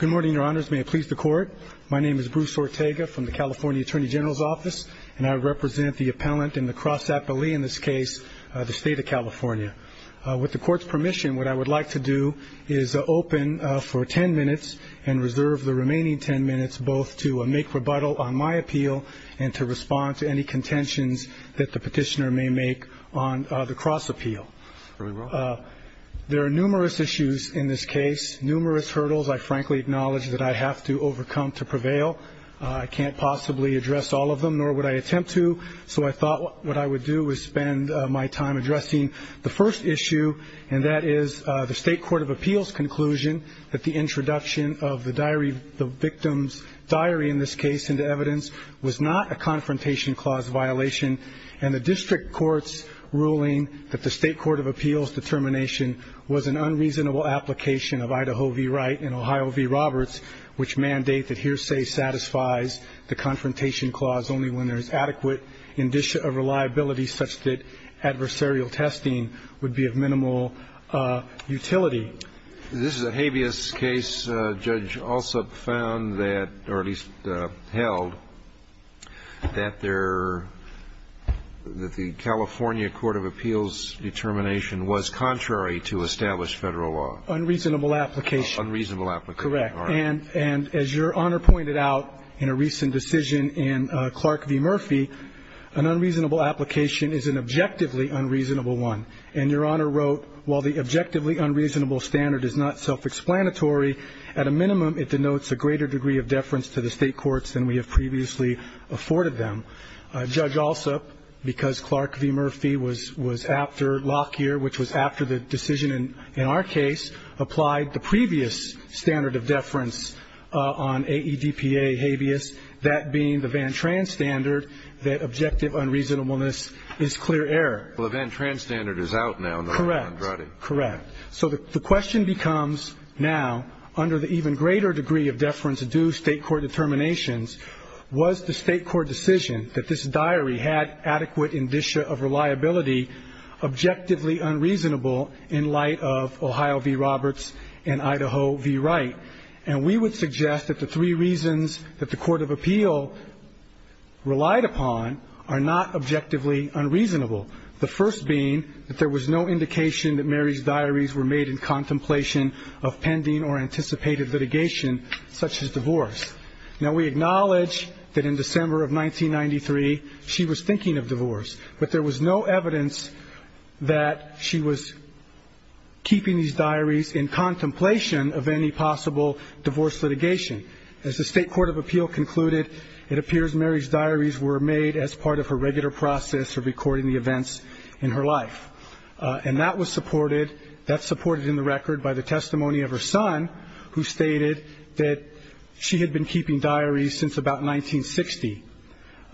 Good morning, Your Honors. May I please the Court? My name is Bruce Ortega from the California Attorney General's Office, and I represent the appellant and the cross-appellee in this case, the State of California. With the Court's permission, what I would like to do is open for ten minutes and reserve the remaining ten minutes both to make rebuttal on my appeal and to respond to any contentions that the petitioner may make on the cross-appeal. There are numerous issues in this case, numerous hurdles I frankly acknowledge that I have to overcome to prevail. I can't possibly address all of them, nor would I attempt to, so I thought what I would do is spend my time addressing the first issue, and that is the State Court of Appeals' conclusion that the introduction of the victim's diary in this case into evidence was not a confrontation clause violation, and the District Court's ruling that the State Court of Appeals' determination was an unreasonable application of Idaho v. Wright and Ohio v. Roberts, which mandate that hearsay satisfies the confrontation clause only when there is adequate reliability such that adversarial testing would be of minimal utility. This is a habeas case. The judge also found that, or at least held, that the California Court of Appeals' determination was contrary to established federal law. Unreasonable application. Unreasonable application. Correct. And as Your Honor pointed out in a recent decision in Clark v. Murphy, an unreasonable application is an objectively unreasonable one. And Your Honor wrote, while the objectively unreasonable standard is not self-explanatory, at a minimum it denotes a greater degree of deference to the state courts than we have previously afforded them. Judge Alsop, because Clark v. Murphy was after Lockyer, which was after the decision in our case, applied the previous standard of deference on AEDPA habeas, that being the Van Tran standard, that objective unreasonableness is clear error. Well, the Van Tran standard is out now. Correct. Correct. So the question becomes now, under the even greater degree of deference due state court determinations, was the state court decision that this diary had adequate indicia of reliability objectively unreasonable in light of Ohio v. Roberts and Idaho v. Wright? And we would suggest that the three reasons that the court of appeal relied upon are not objectively unreasonable. The first being that there was no indication that Mary's diaries were made in contemplation of pending or anticipated litigation, such as divorce. Now, we acknowledge that in December of 1993, she was thinking of divorce. But there was no evidence that she was keeping these diaries in contemplation of any possible divorce litigation. As the state court of appeal concluded, it appears Mary's diaries were made as part of her regular process of recording the events in her life. And that was supported, that's supported in the record by the testimony of her son, who stated that she had been keeping diaries since about 1960.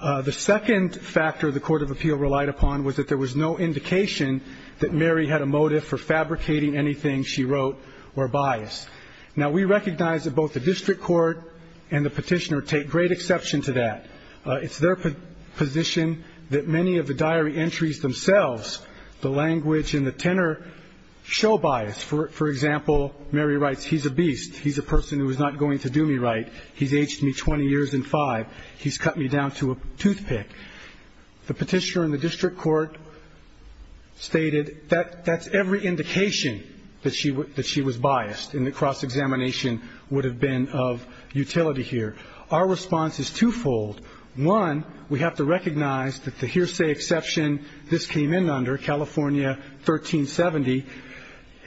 The second factor the court of appeal relied upon was that there was no indication that Mary had a motive for fabricating anything she wrote or biased. Now, we recognize that both the district court and the petitioner take great exception to that. It's their position that many of the diary entries themselves, the language and the tenor, show bias. For example, Mary writes, he's a beast. He's a person who is not going to do me right. He's aged me 20 years and five. He's cut me down to a toothpick. The petitioner in the district court stated that that's every indication that she was biased. And the cross-examination would have been of utility here. Our response is twofold. One, we have to recognize that the hearsay exception this came in under, California 1370,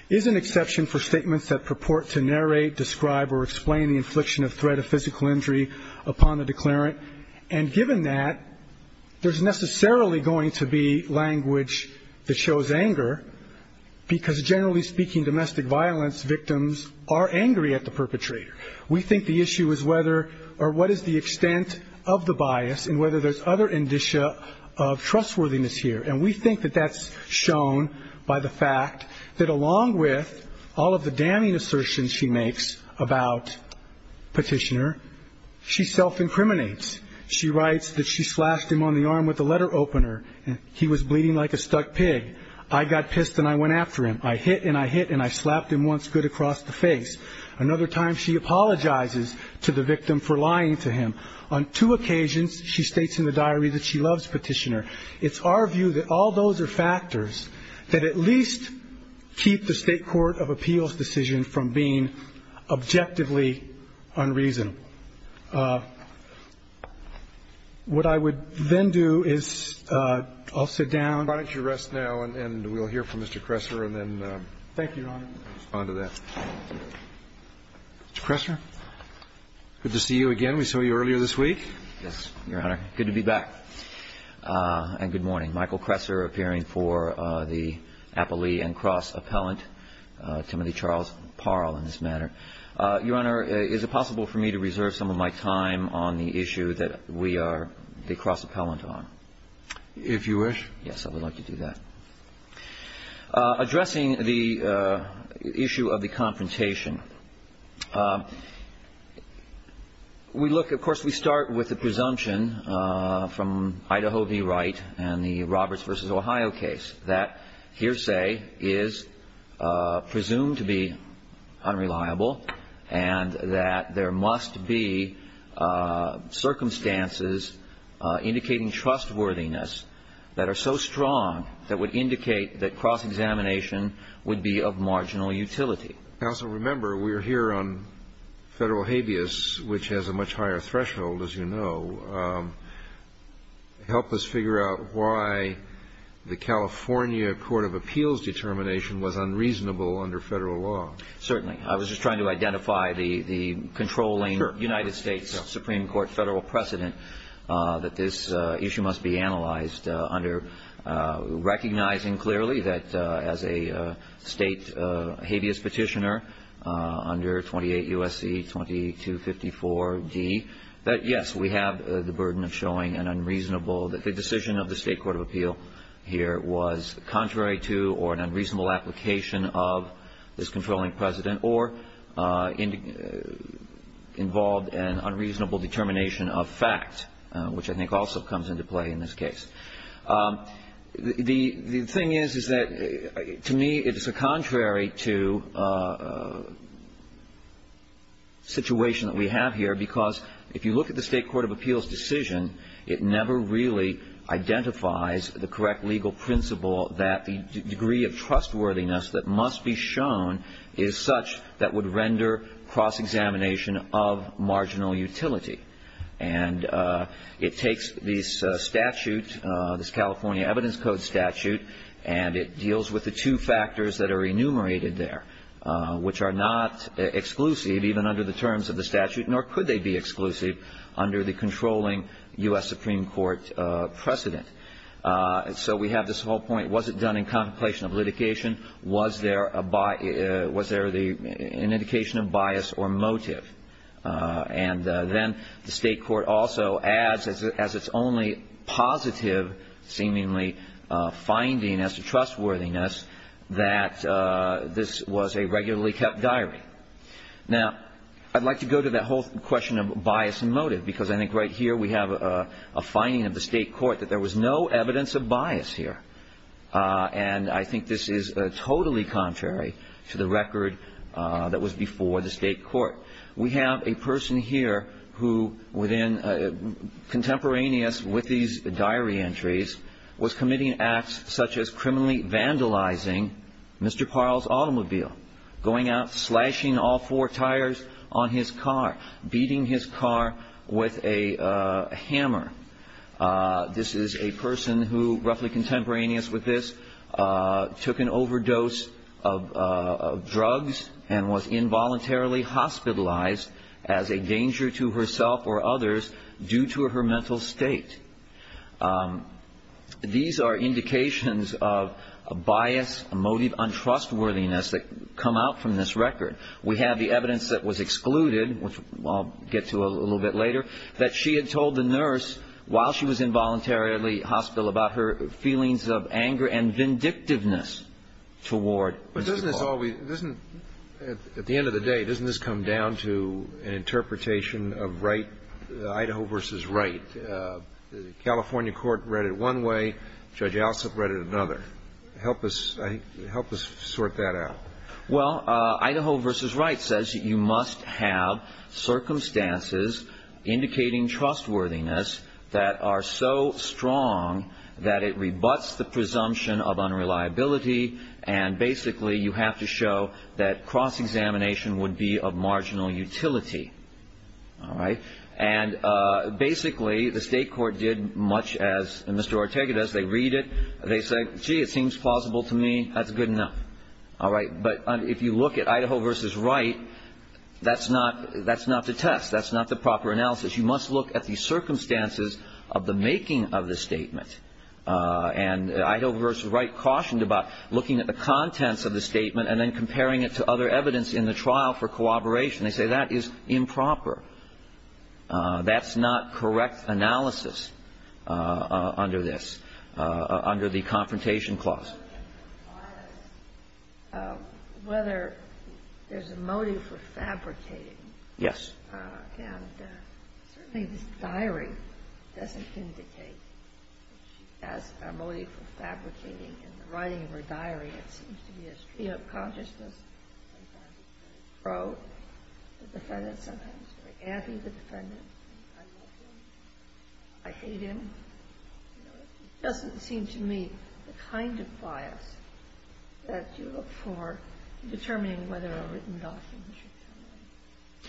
is an exception for statements that purport to narrate, describe, or explain the infliction of threat of physical injury upon the declarant. And given that, there's necessarily going to be language that shows anger because, generally speaking, domestic violence victims are angry at the perpetrator. We think the issue is whether or what is the extent of the bias and whether there's other indicia of trustworthiness here. And we think that that's shown by the fact that along with all of the damning assertions she makes about petitioner, she self-incriminates. She writes that she slashed him on the arm with a letter opener. He was bleeding like a stuck pig. I got pissed and I went after him. I hit and I hit and I slapped him once good across the face. Another time, she apologizes to the victim for lying to him. On two occasions, she states in the diary that she loves petitioner. It's our view that all those are factors that at least keep the state court of appeals decision from being objectively unreasoned. What I would then do is I'll sit down. Why don't you rest now and we'll hear from Mr. Kressler and then respond to that. Thank you, Ron. Mr. Kressler, good to see you again. Yes, Your Honor. Good to be back. And good morning. Michael Kressler appearing for the Applee and Cross Appellant, Timothy Charles Parle in this matter. Your Honor, is it possible for me to reserve some of my time on the issue that we are the Cross Appellant on? If you wish. Yes, I would like to do that. Addressing the issue of the confrontation. We look, of course, we start with the presumption from Idaho v. Wright and the Roberts v. Ohio case that hearsay is presumed to be unreliable and that there must be circumstances indicating trustworthiness that are so strong that would indicate that cross-examination would be of marginal utility. Counsel, remember, we're here on federal habeas, which has a much higher threshold, as you know. Help us figure out why the California Court of Appeals determination was unreasonable under federal law. Certainly. I was just trying to identify the controlling United States Supreme Court federal precedent that this issue must be analyzed under recognizing clearly that as a state habeas petitioner under 28 U.S.C. 2254D, that yes, we have the burden of showing an unreasonable that the decision of the state court of appeal here was contrary to or an unreasonable application of this controlling precedent or involved an unreasonable determination of fact, which I think also comes into play in this case. The thing is that to me it is a contrary to the situation that we have here because if you look at the state court of appeals decision, it never really identifies the correct legal principle that the degree of trustworthiness that must be shown is such that would render cross-examination of marginal utility. And it takes this statute, this California Evidence Code statute, and it deals with the two factors that are enumerated there, which are not exclusive even under the terms of the statute, nor could they be exclusive under the controlling U.S. Supreme Court precedent. So we have this whole point, was it done in contemplation of litigation? Was there an indication of bias or motive? And then the state court also adds as its only positive seemingly finding as to trustworthiness that this was a regularly kept diary. Now, I'd like to go to that whole question of bias and motive because I think right here we have a finding of the state court that there was no evidence of bias here. And I think this is totally contrary to the record that was before the state court. We have a person here who within contemporaneous with these diary entries was committing acts such as criminally vandalizing Mr. Parle's automobile, going out slashing all four tires on his car, beating his car with a hammer. This is a person who, roughly contemporaneous with this, took an overdose of drugs and was involuntarily hospitalized as a danger to herself or others due to her mental state. These are indications of bias, motive, untrustworthiness that come out from this record. We have the evidence that was excluded, which I'll get to a little bit later, that she had told the nurse while she was involuntarily hospital about her feelings of anger and vindictiveness toward Mr. Parle. But doesn't this always, at the end of the day, doesn't this come down to an interpretation of Idaho v. Wright? The California court read it one way, Judge Alsop read it another. Help us sort that out. Well, Idaho v. Wright says you must have circumstances indicating trustworthiness that are so strong that it rebuts the presumption of unreliability and basically you have to show that cross-examination would be of marginal utility. Basically, the state court did much as Mr. Ortega does. They read it. They say, gee, it seems plausible to me. That's good enough. All right, but if you look at Idaho v. Wright, that's not the test. That's not the proper analysis. You must look at the circumstances of the making of the statement. And Idaho v. Wright cautioned about looking at the contents of the statement and then comparing it to other evidence in the trial for corroboration. They say that is improper. That's not correct analysis under this, under the confrontation clause. Whether there's a motive for fabricating. Yes. And certainly the diary doesn't seem to take as a motive for fabricating. In the writing of the diary, it seems to be a state of consciousness. It's a pro. It's a defendant. Sometimes it's a anti-defendant. Sometimes it's a citizen. It doesn't seem to me the kind of file that you look for in determining whether a written document should be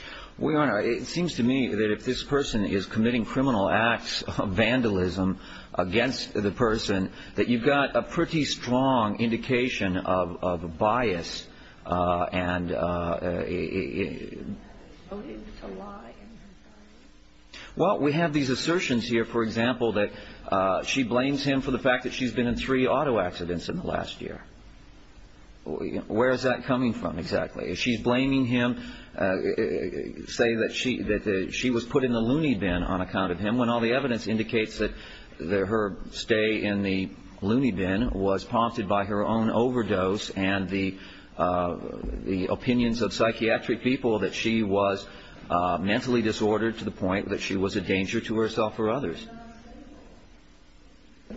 fabricated. Your Honor, it seems to me that if this person is committing criminal acts of vandalism against the person, that you've got a pretty strong indication of bias. Well, we have these assertions here, for example, that she blames him for the fact that she's been in three auto accidents in the last year. Where is that coming from exactly? If she's blaming him, say that she was put in the loony bin on account of him when all the evidence indicates that her stay in the loony bin was prompted by her own overdose and the opinions of psychiatric people that she was mentally disordered to the point that she was a danger to herself or others.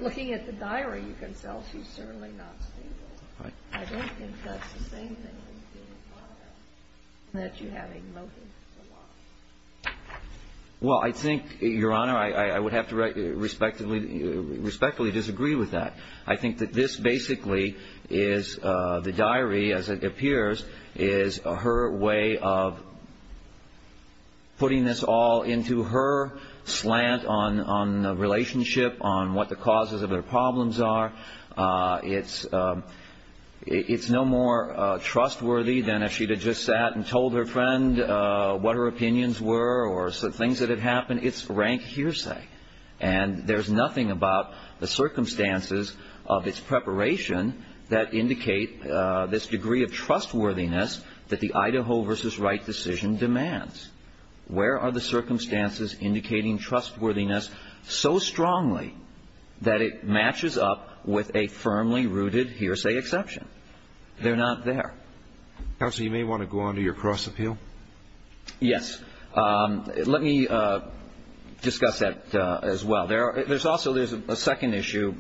Looking at the diary, you can tell she's certainly not a thief. I don't think that's the thing that you have in motive. Well, I think, Your Honor, I would have to respectfully disagree with that. I think that this basically is the diary, as it appears, is her way of putting this all into her slant on the relationship, on what the causes of her problems are. It's no more trustworthy than if she had just sat and told her friend what her opinions were or some things that had happened. It's rank hearsay. And there's nothing about the circumstances of its preparation that indicate this degree of trustworthiness that the Idaho v. Wright decision demands. Where are the circumstances indicating trustworthiness so strongly that it matches up with a firmly rooted hearsay exception? They're not there. Counsel, you may want to go on to your cross-appeal. Yes. Let me discuss that as well. There's also a second issue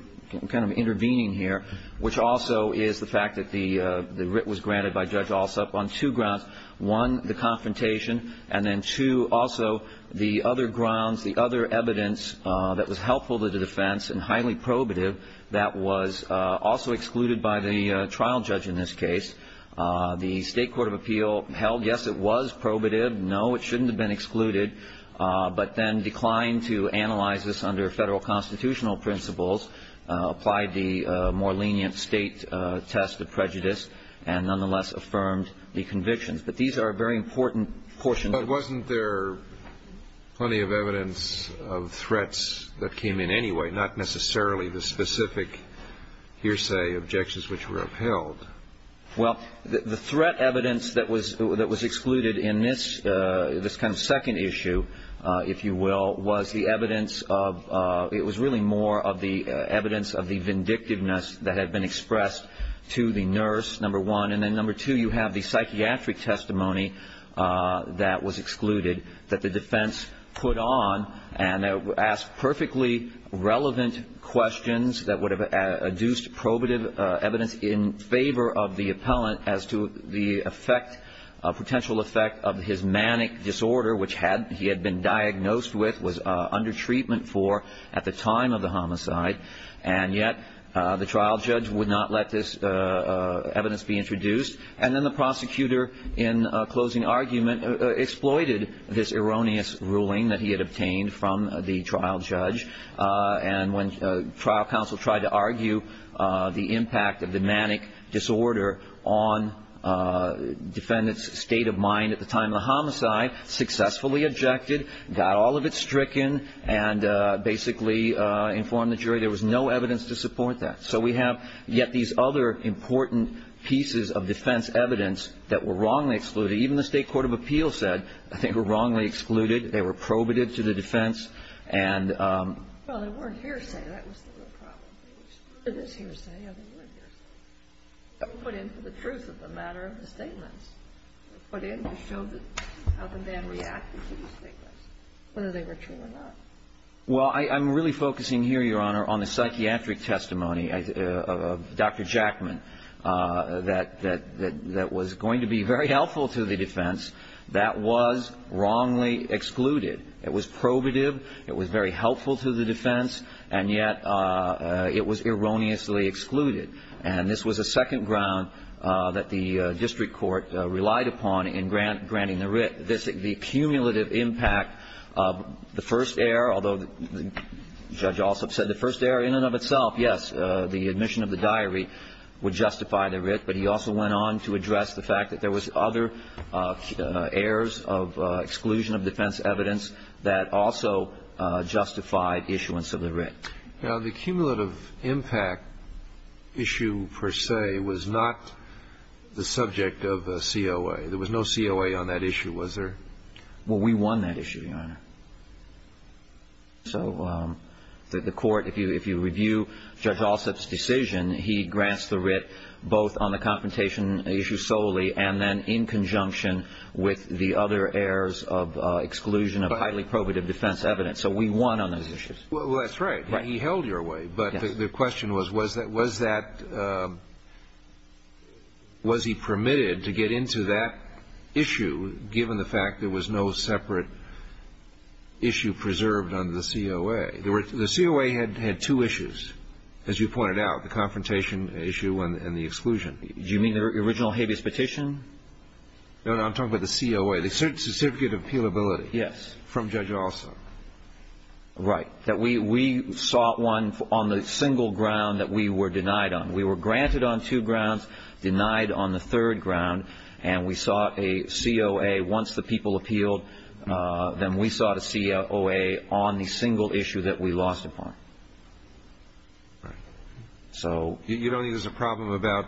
kind of intervening here, which also is the fact that the writ was granted by Judge Alsop on two grounds. One, the confrontation, and then two, also the other grounds, the other evidence that was helpful to the defense and highly probative that was also excluded by the trial judge in this case. The State Court of Appeal held, yes, it was probative, no, it shouldn't have been excluded, but then declined to analyze this under federal constitutional principles, applied the more lenient state test of prejudice, and nonetheless affirmed the convictions. But these are very important portions. But wasn't there plenty of evidence of threats that came in anyway, not necessarily the specific hearsay objections which were upheld? Well, the threat evidence that was excluded in this kind of second issue, if you will, was the evidence of the vindictiveness that had been expressed to the nurse, number one, and then number two, you have the psychiatric testimony that was excluded that the defense put on and asked perfectly relevant questions that would have adduced probative evidence in favor of the appellant as to the potential effect of his manic disorder, which he had been diagnosed with, was under treatment for at the time of the homicide. And yet the trial judge would not let this evidence be introduced. And then the prosecutor, in closing argument, exploited this erroneous ruling that he had obtained from the trial judge. And when trial counsel tried to argue the impact of the manic disorder on defendant's state of mind at the time of the homicide, successfully objected, got all of it stricken, and basically informed the jury there was no evidence to support that. So we have yet these other important pieces of defense evidence that were wrongly excluded. Even the state court of appeals said they were wrongly excluded, they were probative to the defense. Well, they weren't hearsay, that was the real problem. It was hearsay. Well, I'm really focusing here, Your Honor, on the psychiatric testimony of Dr. Jackman that was going to be very helpful to the defense. That was wrongly excluded. It was probative, it was very helpful to the defense, and yet it was erroneously excluded. And this was a second ground that the district court relied upon in granting the writ. The cumulative impact of the first error, although Judge Alsop said the first error in and of itself, yes, the admission of the diary would justify the writ, but he also went on to address the fact that there was other errors of exclusion of defense evidence that also justified the issuance of the writ. Now, the cumulative impact issue per se was not the subject of COA. There was no COA on that issue, was there? Well, we won that issue, Your Honor. So the court, if you review Judge Alsop's decision, he grants the writ both on the confrontation issue solely and then in conjunction with the other errors of exclusion of highly probative defense evidence. So we won on those issues. Well, that's right. He held your way, but the question was, was he permitted to get into that issue given the fact there was no separate issue preserved under the COA? The COA had two issues, as you pointed out, the confrontation issue and the exclusion. Do you mean the original habeas petition? No, I'm talking about the COA, the certificate of appealability. Yes. From Judge Alsop. Right. We sought one on the single ground that we were denied on. We were granted on two grounds, denied on the third ground, and we sought a COA once the people appealed, then we sought a COA on the single issue that we lost upon. So you don't think there's a problem about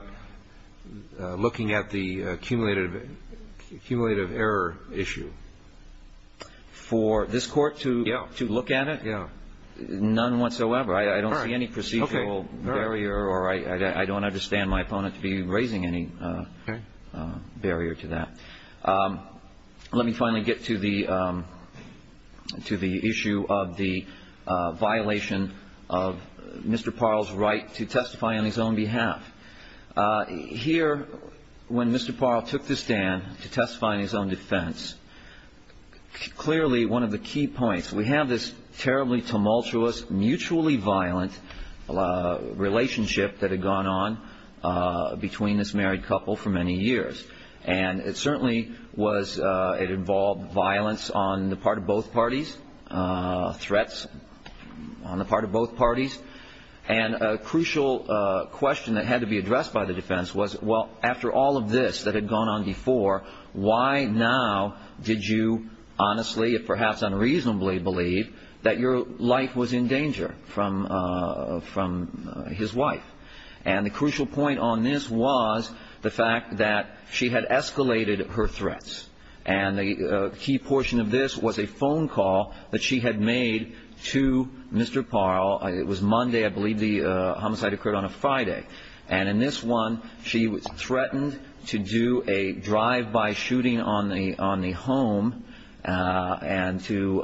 looking at the cumulative error issue? For this court to look at it? Yeah. None whatsoever. I don't see any procedural barrier, or I don't understand my opponent to be raising any barrier to that. Let me finally get to the issue of the violation of Mr. Parle's right to testify on his own behalf. Here, when Mr. Parle took the stand to testify on his own defense, clearly one of the key points, we have this terribly tumultuous, mutually violent relationship that had gone on between this married couple for many years, and it certainly was, it involved violence on the part of both parties, threats on the part of both parties, and a crucial question that had to be addressed by the defense was, well, after all of this that had gone on before, why now did you honestly, if perhaps unreasonably, believe that your life was in danger from his wife? And the crucial point on this was the fact that she had escalated her threats, and a key portion of this was a phone call that she had made to Mr. Parle. It was Monday, I believe the homicide occurred on a Friday, and in this one she threatened to do a drive-by shooting on the home, and to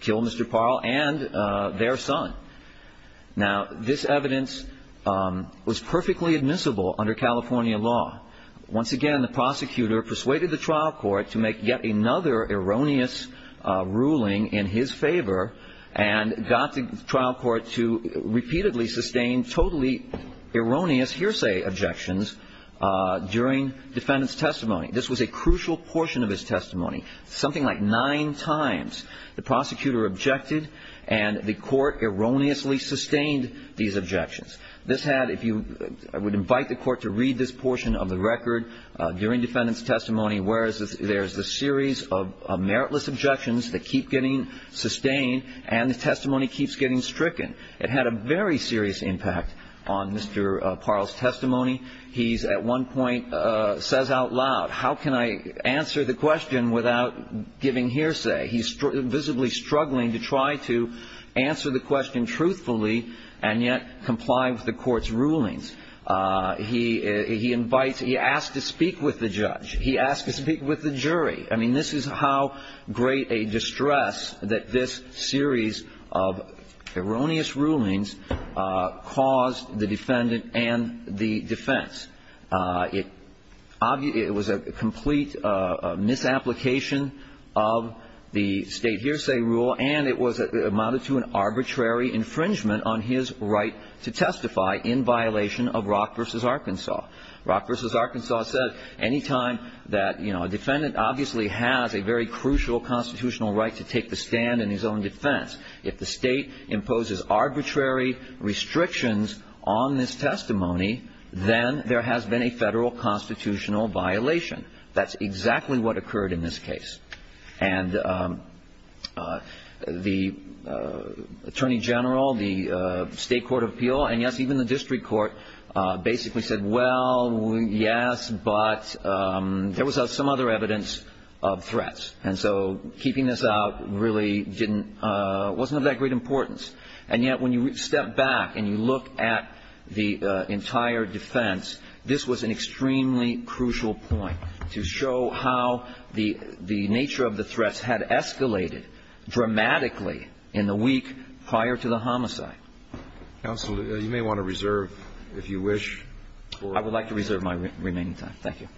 kill Mr. Parle and their son. Now, this evidence was perfectly admissible under California law. Once again, the prosecutor persuaded the trial court to make yet another erroneous ruling in his favor, and got the trial court to repeatedly sustain totally erroneous hearsay objections during defendant's testimony. This was a crucial portion of his testimony. Something like nine times the prosecutor objected, and the court erroneously sustained these objections. This had, if you would invite the court to read this portion of the record during defendant's testimony, where there's a series of meritless objections that keep getting sustained, and the testimony keeps getting stricken. It had a very serious impact on Mr. Parle's testimony. He at one point says out loud, how can I answer the question without giving hearsay? He's visibly struggling to try to answer the question truthfully, and yet comply with the court's rulings. He invites, he asks to speak with the judge. He asks to speak with the jury. I mean, this is how great a distress that this series of erroneous rulings caused the defendant and the defense. It was a complete misapplication of the state hearsay rule, and it was, it amounted to an arbitrary infringement on his right to testify in violation of Rock v. Arkansas. Rock v. Arkansas said anytime that, you know, a defendant obviously has a very crucial constitutional right to take the stand in his own defense. If the state imposes arbitrary restrictions on this testimony, then there has been a federal constitutional violation. That's exactly what occurred in this case. And the attorney general, the state court of appeal, and yes, even the district court basically said, well, yes, but there was some other evidence of threats. And so keeping this out really didn't, wasn't of that great importance. And yet when you step back and you look at the entire defense, this was an extremely crucial point to show how the nature of the threats had escalated dramatically in the week prior to the homicide. Counsel, you may want to reserve if you wish. I would like to reserve my remaining time. Thank you.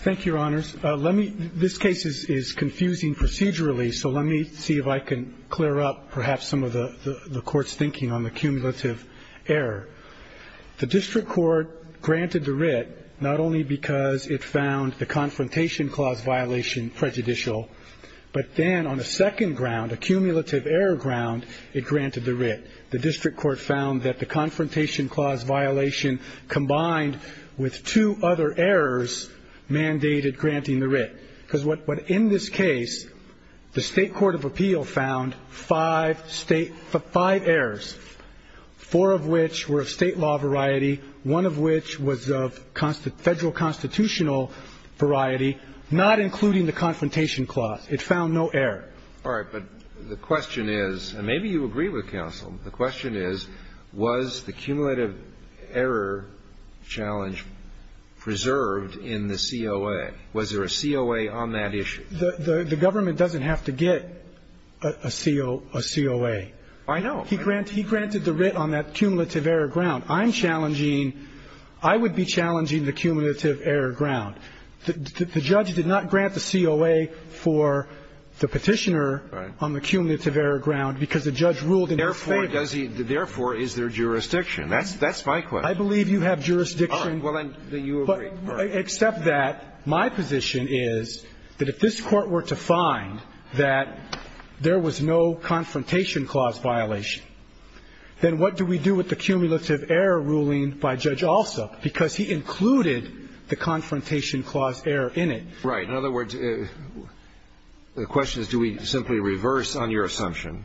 Thank you, Your Honors. Let me, this case is confusing procedurally, so let me see if I can clear up perhaps some of the court's thinking on the cumulative error. The district court granted the writ not only because it found the confrontation clause violation prejudicial, but then on a second ground, a cumulative error ground, it granted the writ. The district court found that the confrontation clause violation combined with two other errors mandated granting the writ. But in this case, the state court of appeal found five errors, four of which were of state law variety, one of which was of federal constitutional variety, not including the confrontation clause. It found no error. All right, but the question is, and maybe you agree with counsel, the question is was the cumulative error challenge preserved in the COA? Was there a COA on that issue? The government doesn't have to get a COA. I know. He granted the writ on that cumulative error ground. I'm challenging, I would be challenging the cumulative error ground. The judge did not grant the COA for the petitioner on the cumulative error ground because the judge ruled in their favor. Therefore, is there jurisdiction? That's my question. I believe you have jurisdiction. Except that my position is that if this court were to find that there was no confrontation clause violation, then what do we do with the cumulative error ruling by Judge Alsop? Because he included the confrontation clause error in it. Right. In other words, the question is do we simply reverse on your assumption,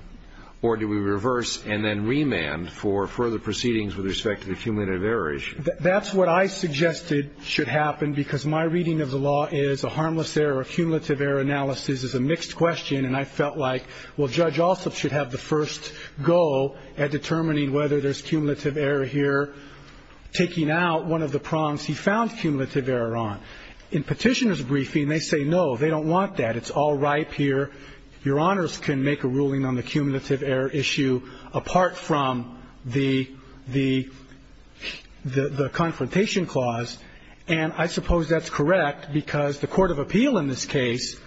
or do we reverse and then remand for further proceedings with respect to the cumulative error issue? That's what I suggested should happen because my reading of the law is a harmless error, a cumulative error analysis is a mixed question, and I felt like, well, Judge Alsop should have the first go at determining whether there's cumulative error here, taking out one of the prongs he found cumulative error on. In petitioner's briefing, they say, no, they don't want that. It's all ripe here. Your Honors can make a ruling on the cumulative error issue apart from the confrontation clause, and I suppose that's correct because the court of appeal in this case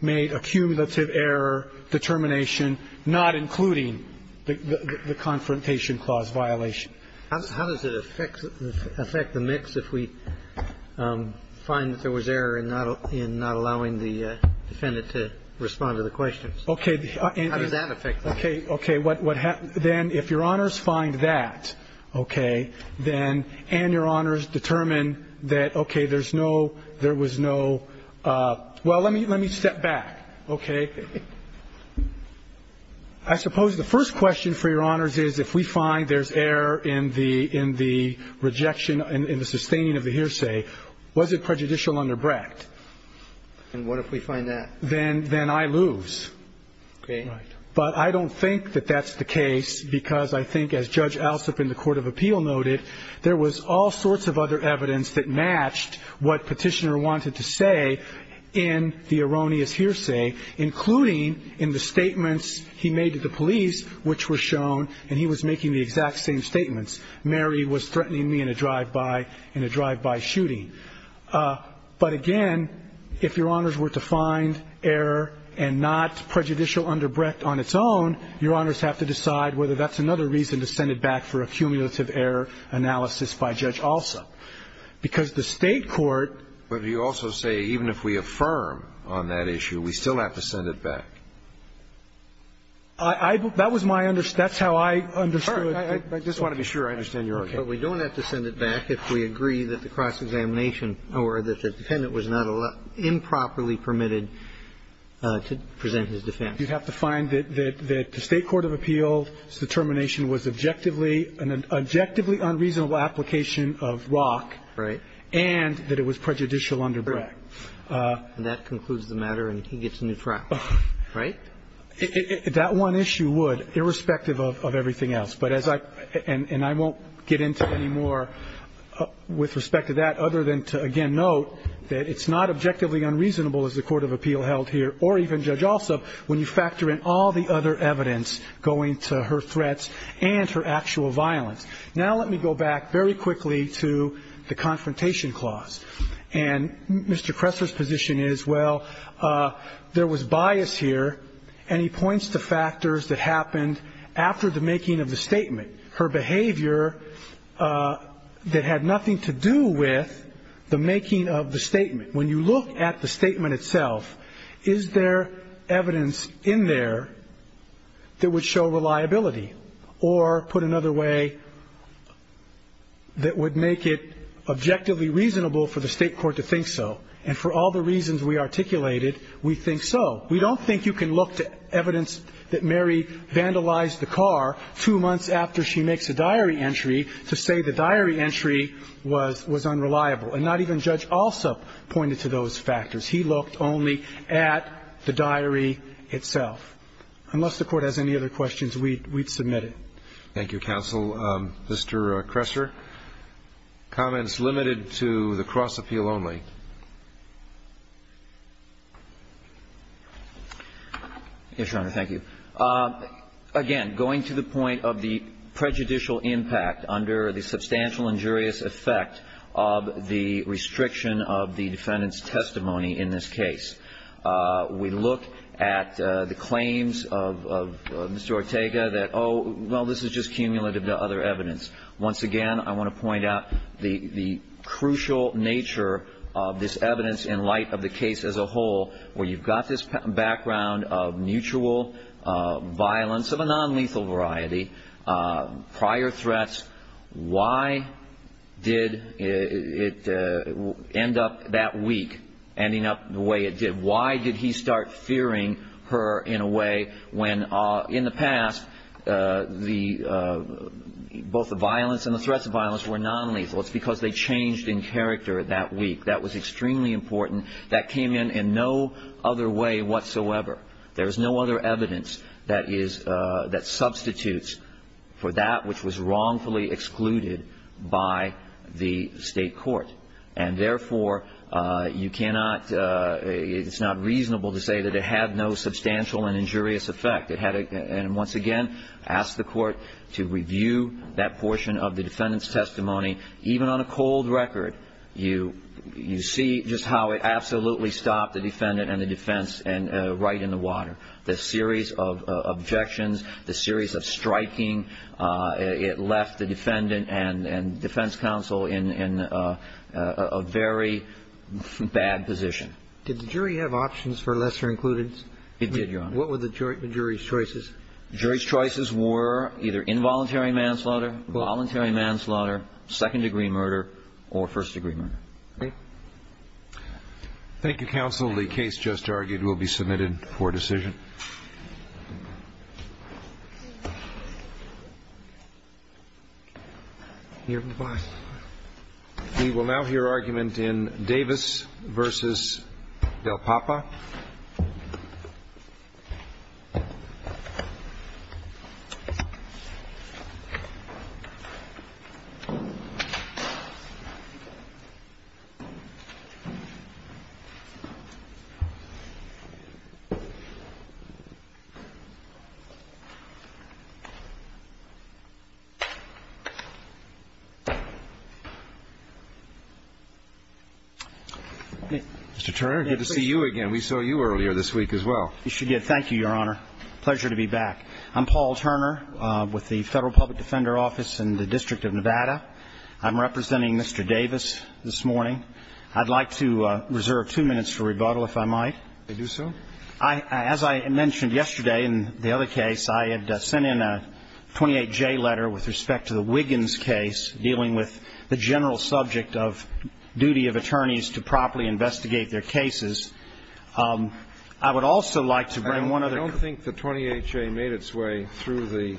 made a cumulative error determination, not including the confrontation clause violation. How does it affect the mix if we find that there was error in not allowing the defendant to respond to the questions? Okay. How does that affect that? Okay. Then if Your Honors find that, okay, then and Your Honors determine that, okay, there's no, there was no. Well, let me step back, okay? I suppose the first question for Your Honors is if we find there's error in the rejection, in the sustaining of the hearsay, was it prejudicial under BRAC? And what if we find that? Then I lose. Okay. But I don't think that that's the case because I think as Judge Alsop in the court of appeal noted, there was all sorts of other evidence that matched what petitioner wanted to say in the erroneous hearsay, including in the statements he made to the police, which were shown, and he was making the exact same statements, Mary was threatening me in a drive-by shooting. But, again, if Your Honors were to find error and not prejudicial under BRAC on its own, Your Honors have to decide whether that's another reason to send it back for a cumulative error analysis by Judge Alsop. Because the state court... But you also say even if we affirm on that issue, we still have to send it back. That's how I understood it. I just want to be sure I understand Your Honors. But we don't have to send it back if we agree that the cross-examination or that the defendant was improperly permitted to present his defense. You'd have to find that the state court of appeals determination was objectively unreasonable application of ROC and that it was prejudicial under BRAC. And that concludes the matter and he gets a new practice, right? That one issue would, irrespective of everything else. And I won't get into any more with respect to that other than to, again, note that it's not objectively unreasonable, as the court of appeal held here, or even Judge Alsop, when you factor in all the other evidence going to her threats and her actual violence. Now let me go back very quickly to the confrontation clause. And Mr. Kresser's position is, well, there was bias here, and he points to factors that happened after the making of the statement. Her behavior that had nothing to do with the making of the statement. When you look at the statement itself, is there evidence in there that would show reliability? Or, put another way, that would make it objectively reasonable for the state court to think so? And for all the reasons we articulated, we think so. We don't think you can look at evidence that Mary vandalized the car two months after she makes a diary entry to say the diary entry was unreliable. And not even Judge Alsop pointed to those factors. He looked only at the diary itself. Unless the court has any other questions, we'd submit it. Thank you, counsel. Mr. Kresser, comments limited to the cross-appeal only. Yes, Your Honor, thank you. Again, going to the point of the prejudicial impact under the substantial injurious effect of the restriction of the defendant's testimony in this case. We looked at the claims of Mr. Ortega that, oh, well, this is just cumulative to other evidence. Once again, I want to point out the crucial nature of this evidence in light of the case as a whole, where you've got this background of mutual violence of a nonlethal variety, prior threats. Why did it end up that week ending up the way it did? Why did he start fearing her in a way when, in the past, both the violence and the threats of violence were nonlethal? It's because they changed in character that week. That was extremely important. That came in in no other way whatsoever. There is no other evidence that substitutes for that which was wrongfully excluded by the state court. Therefore, it's not reasonable to say that it had no substantial and injurious effect. Once again, I ask the court to review that portion of the defendant's testimony. Even on a cold record, you see just how it absolutely stopped the defendant and the defense right in the water. The series of objections, the series of striking, it left the defendant and defense counsel in a very bad position. Did the jury have options for lesser includence? It did, Your Honor. What were the jury's choices? The jury's choices were either involuntary manslaughter, voluntary manslaughter, second-degree murder, or first-degree murder. Thank you, counsel. The case just argued will be submitted for decision. We will now hear argument in Davis v. Del Papa. Mr. Turner, good to see you again. We saw you earlier this week as well. Thank you, Your Honor. Pleasure to be back. I'm Paul Turner with the Federal Public Defender Office in the District of Nevada. I'm representing Mr. Davis this morning. I'd like to reserve two minutes for rebuttal, if I might. Do so. As I mentioned yesterday in the other case, I had sent in a 28J letter with respect to the Wiggins case, dealing with the general subject of duty of attorneys to properly investigate their cases. I would also like to bring one other case. I don't think the 28J made its way through the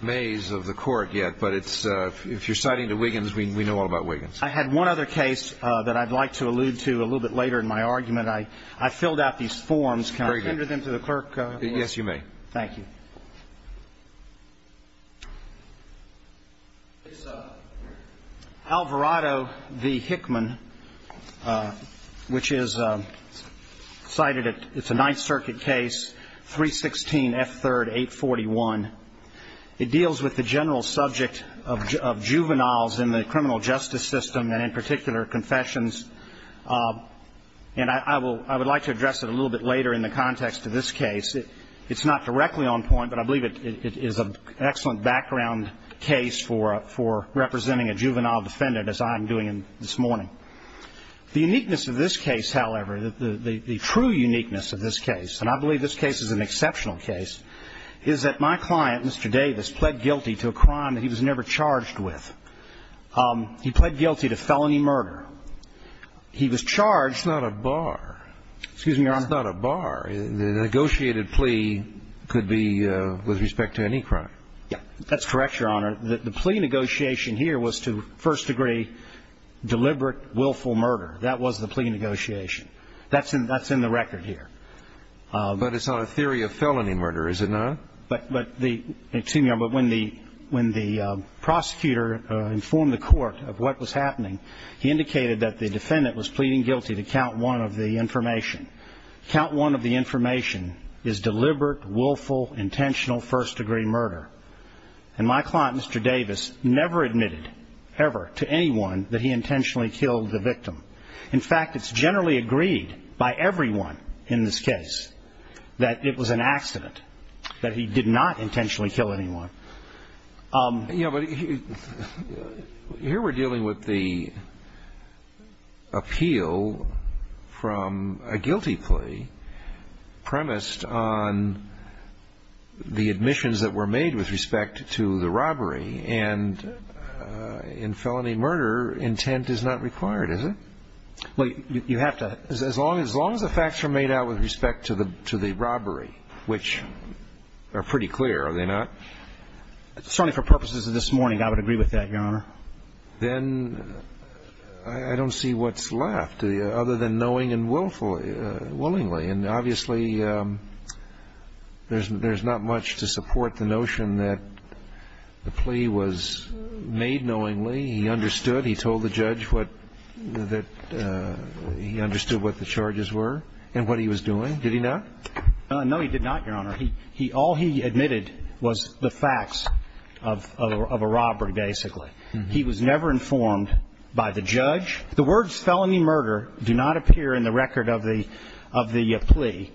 maze of the court yet, but if you're citing the Wiggins, we know all about Wiggins. I had one other case that I'd like to allude to a little bit later in my argument. I filled out these forms. Can I send them to the clerk? Yes, you may. Thank you. Alvarado v. Hickman, which is cited, it's a Ninth Circuit case, 316F3-841. It deals with the general subject of juveniles in the criminal justice system, and in particular, confessions. And I would like to address it a little bit later in the context of this case. It's not directly on point, but I believe it is an excellent background case for representing a juvenile defendant, as I'm doing this morning. The uniqueness of this case, however, the true uniqueness of this case, and I believe this case is an exceptional case, is that my client, Mr. Davis, pled guilty to a crime that he was never charged with. He pled guilty to felony murder. He was charged. It's not a bar. Excuse me, Your Honor. It's not a bar. A negotiated plea could be with respect to any crime. Yes, that's correct, Your Honor. The plea negotiation here was to first degree deliberate willful murder. That was the plea negotiation. That's in the record here. But it's not a theory of felony murder, is it not? Excuse me, Your Honor, but when the prosecutor informed the court of what was happening, he indicated that the defendant was pleading guilty to count one of the information. Count one of the information is deliberate, willful, intentional first degree murder. And my client, Mr. Davis, never admitted ever to anyone that he intentionally killed the victim. In fact, it's generally agreed by everyone in this case that it was an accident, that he did not intentionally kill anyone. Yeah, but here we're dealing with the appeal from a guilty plea premised on the admissions that were made with respect to the robbery. And in felony murder, intent is not required, is it? As long as the facts are made out with respect to the robbery, which are pretty clear, are they not? Certainly for purposes of this morning, I would agree with that, Your Honor. Then I don't see what's left other than knowing and willingly. And obviously there's not much to support the notion that the plea was made knowingly. He understood. He told the judge that he understood what the charges were and what he was doing. Did he not? No, he did not, Your Honor. All he admitted was the facts of a robbery, basically. He was never informed by the judge. The words felony murder do not appear in the record of the plea.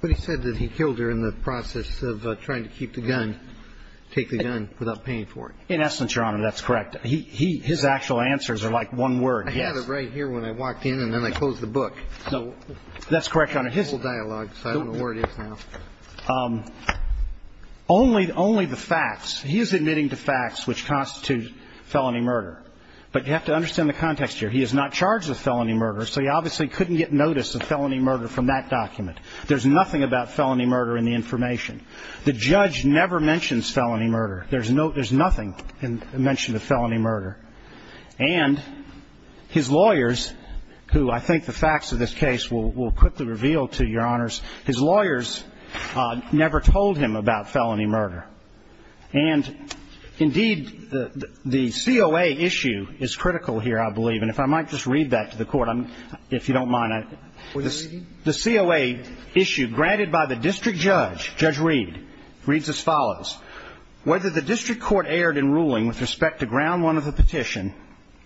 But he said that he killed her in the process of trying to keep the gun, take the gun without paying for it. In essence, Your Honor, that's correct. His actual answers are like one word, yes. I had it right here when I walked in and then I closed the book. That's correct, Your Honor. Full dialogue, so I don't know where it is now. Only the facts. He is admitting the facts which constitute felony murder. But you have to understand the context here. He is not charged with felony murder, so he obviously couldn't get notice of felony murder from that document. There's nothing about felony murder in the information. The judge never mentions felony murder. There's nothing mentioned of felony murder. And his lawyers, who I think the facts of this case will quickly reveal to Your Honors, his lawyers never told him about felony murder. And, indeed, the COA issue is critical here, I believe. And if I might just read that to the Court, if you don't mind. The COA issue granted by the district judge, Judge Reed, reads as follows. Whether the district court erred in ruling with respect to ground one of the petition,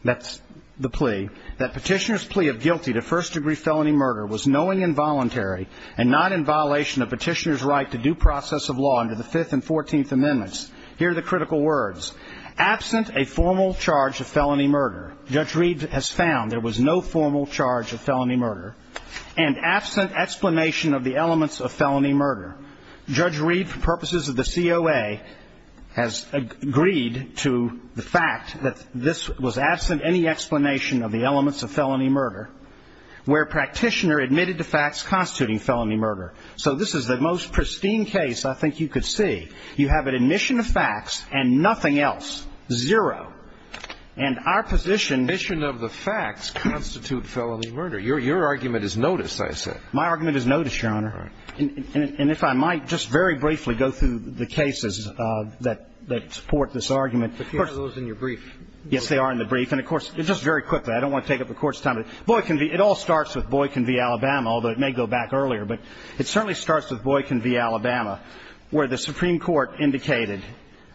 that's the plea, that petitioner's plea of guilty to first-degree felony murder was knowing and voluntary and not in violation of petitioner's right to due process of law under the Fifth and Fourteenth Amendments, here are the critical words. Absent a formal charge of felony murder, Judge Reed has found there was no formal charge of felony murder, and absent explanation of the elements of felony murder, Therefore, Judge Reed, for purposes of the COA, has agreed to the fact that this was absent any explanation of the elements of felony murder, where practitioner admitted the facts constituting felony murder. So this is the most pristine case I think you could see. You have an admission of facts and nothing else. Zero. And our position... The admission of the facts constitute felony murder. Your argument is noticed, I say. My argument is noticed, Your Honor. And if I might just very briefly go through the cases that support this argument. But here are those in your brief. Yes, they are in the brief. And of course, just very quickly, I don't want to take up the Court's time. It all starts with Boykin v. Alabama, although it may go back earlier, but it certainly starts with Boykin v. Alabama, where the Supreme Court indicated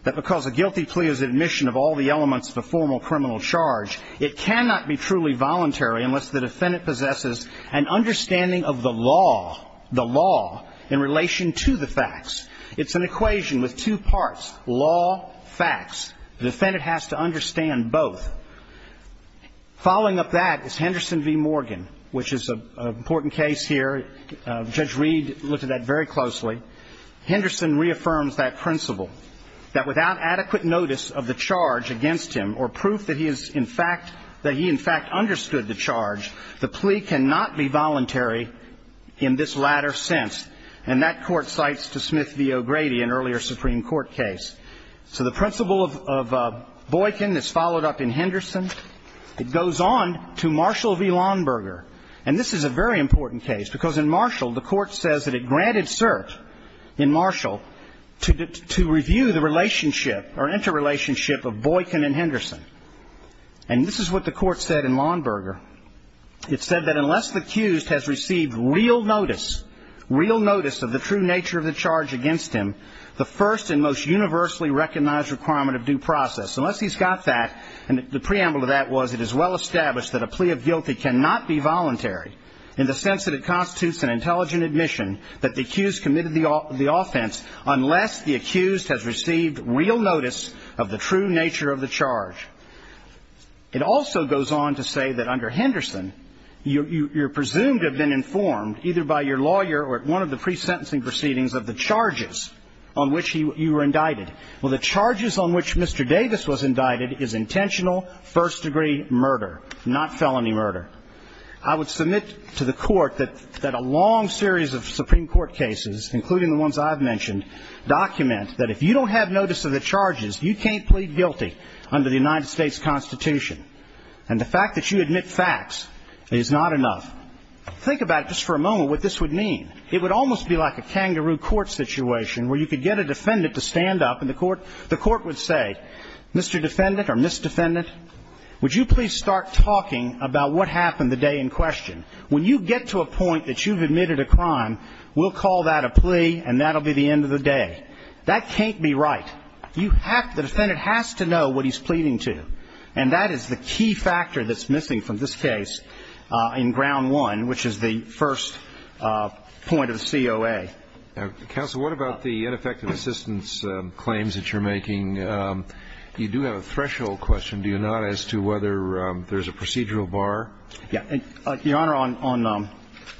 that because a guilty plea is admission of all the elements of a formal criminal charge, it cannot be truly voluntary unless the defendant possesses an understanding of the law, the law in relation to the facts. It's an equation with two parts, law, facts. The defendant has to understand both. Following up that is Henderson v. Morgan, which is an important case here. Judge Reed looked at that very closely. Henderson reaffirms that principle, that without adequate notice of the charge against him or proof that he in fact understood the charge, the plea cannot be voluntary in this latter sense. And that Court cites to Smith v. O'Grady, an earlier Supreme Court case. So the principle of Boykin is followed up in Henderson. It goes on to Marshall v. Lonnberger. And this is a very important case because in Marshall, the Court says that it granted cert in Marshall to review the relationship or interrelationship of Boykin and Henderson. And this is what the Court said in Lonnberger. It said that unless the accused has received real notice, real notice of the true nature of the charge against him, the first and most universally recognized requirement of due process, unless he's got that, and the preamble to that was it is well established that a plea of guilty cannot be voluntary in the sense that it constitutes an intelligent admission that the accused committed the offense unless the accused has received real notice of the true nature of the charge. It also goes on to say that under Henderson, you're presumed to have been informed, either by your lawyer or at one of the pre-sentencing proceedings, of the charges on which you were indicted. Well, the charges on which Mr. Davis was indicted is intentional first-degree murder, not felony murder. I would submit to the Court that a long series of Supreme Court cases, including the ones I've mentioned, documents that if you don't have notice of the charges, you can't plead guilty under the United States Constitution. And the fact that you admit facts is not enough. Think about it just for a moment what this would mean. It would almost be like a kangaroo court situation where you could get a defendant to stand up, and the Court would say, Mr. Defendant or Miss Defendant, would you please start talking about what happened the day in question? When you get to a point that you've admitted a crime, we'll call that a plea, and that'll be the end of the day. That can't be right. The defendant has to know what he's pleading to, and that is the key factor that's missing from this case in ground one, which is the first point of the COA. Counsel, what about the ineffective assistance claims that you're making? You do have a threshold question, do you not, as to whether there's a procedural bar? Yeah. Your Honor, on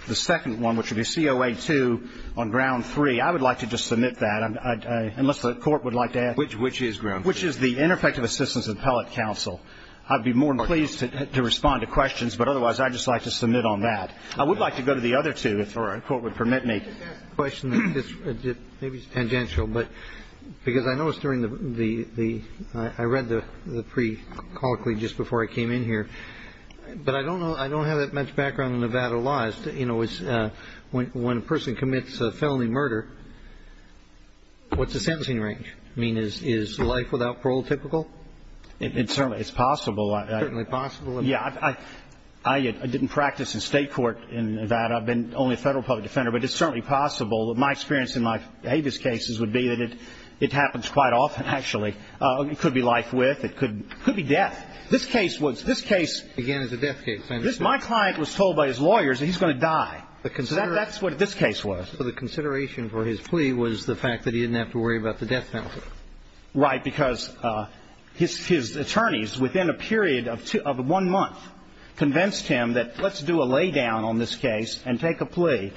the second one, which would be COA 2 on ground three, I would like to just submit that, unless the Court would like to ask. Which is ground three? Which is the ineffective assistance appellate counsel. I'd be more than pleased to respond to questions, but otherwise I'd just like to submit on that. I would like to go to the other two, if the Court would permit me. I have a question that's maybe tangential, because I know it's during the pre-colloquy, just before I came in here, but I don't have that much background in Nevada law. When a person commits a felony murder, what's the sentencing range? I mean, is life without parole typical? It's possible. Certainly possible? Yeah. I didn't practice in state court in Nevada. I've been only a federal public defender, but it's certainly possible. My experience in my previous cases would be that it happens quite often, actually. It could be life with, it could be death. This case was, this case, my client was told by his lawyers that he's going to die. That's what this case was. So the consideration for his plea was the fact that he didn't have to worry about the death penalty. Right, because his attorneys, within a period of one month, convinced him that let's do a lay down on this case and take a plea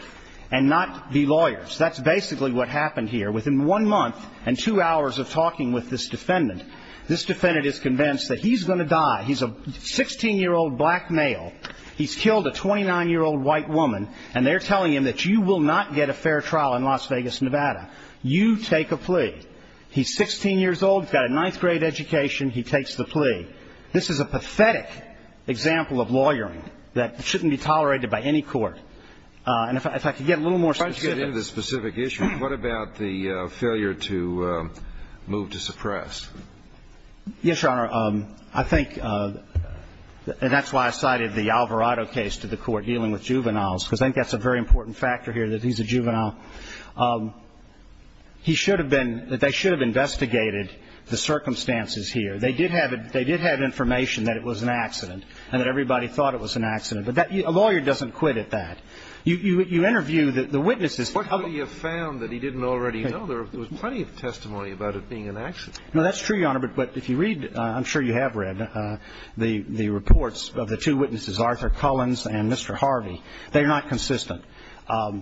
and not be lawyers. That's basically what happened here. Within one month and two hours of talking with this defendant, this defendant is convinced that he's going to die. He's a 16-year-old black male. He's killed a 29-year-old white woman, and they're telling him that you will not get a fair trial in Las Vegas, Nevada. You take a plea. He's 16 years old, he's got a ninth grade education, he takes the plea. This is a pathetic example of lawyering that shouldn't be tolerated by any court. And if I could get a little more specific. Before I get into the specific issue, what about the failure to move to suppress? Yes, Your Honor. I think, and that's why I cited the Alvarado case to the court dealing with juveniles, because I think that's a very important factor here that he's a juvenile. He should have been, they should have investigated the circumstances here. They did have information that it was an accident and that everybody thought it was an accident. A lawyer doesn't quit at that. You interview the witnesses. What could he have found that he didn't already know? There was plenty of testimony about it being an accident. No, that's true, Your Honor, but if you read, I'm sure you have read, the reports of the two witnesses, Arthur Cullens and Mr. Harvey, they're not consistent.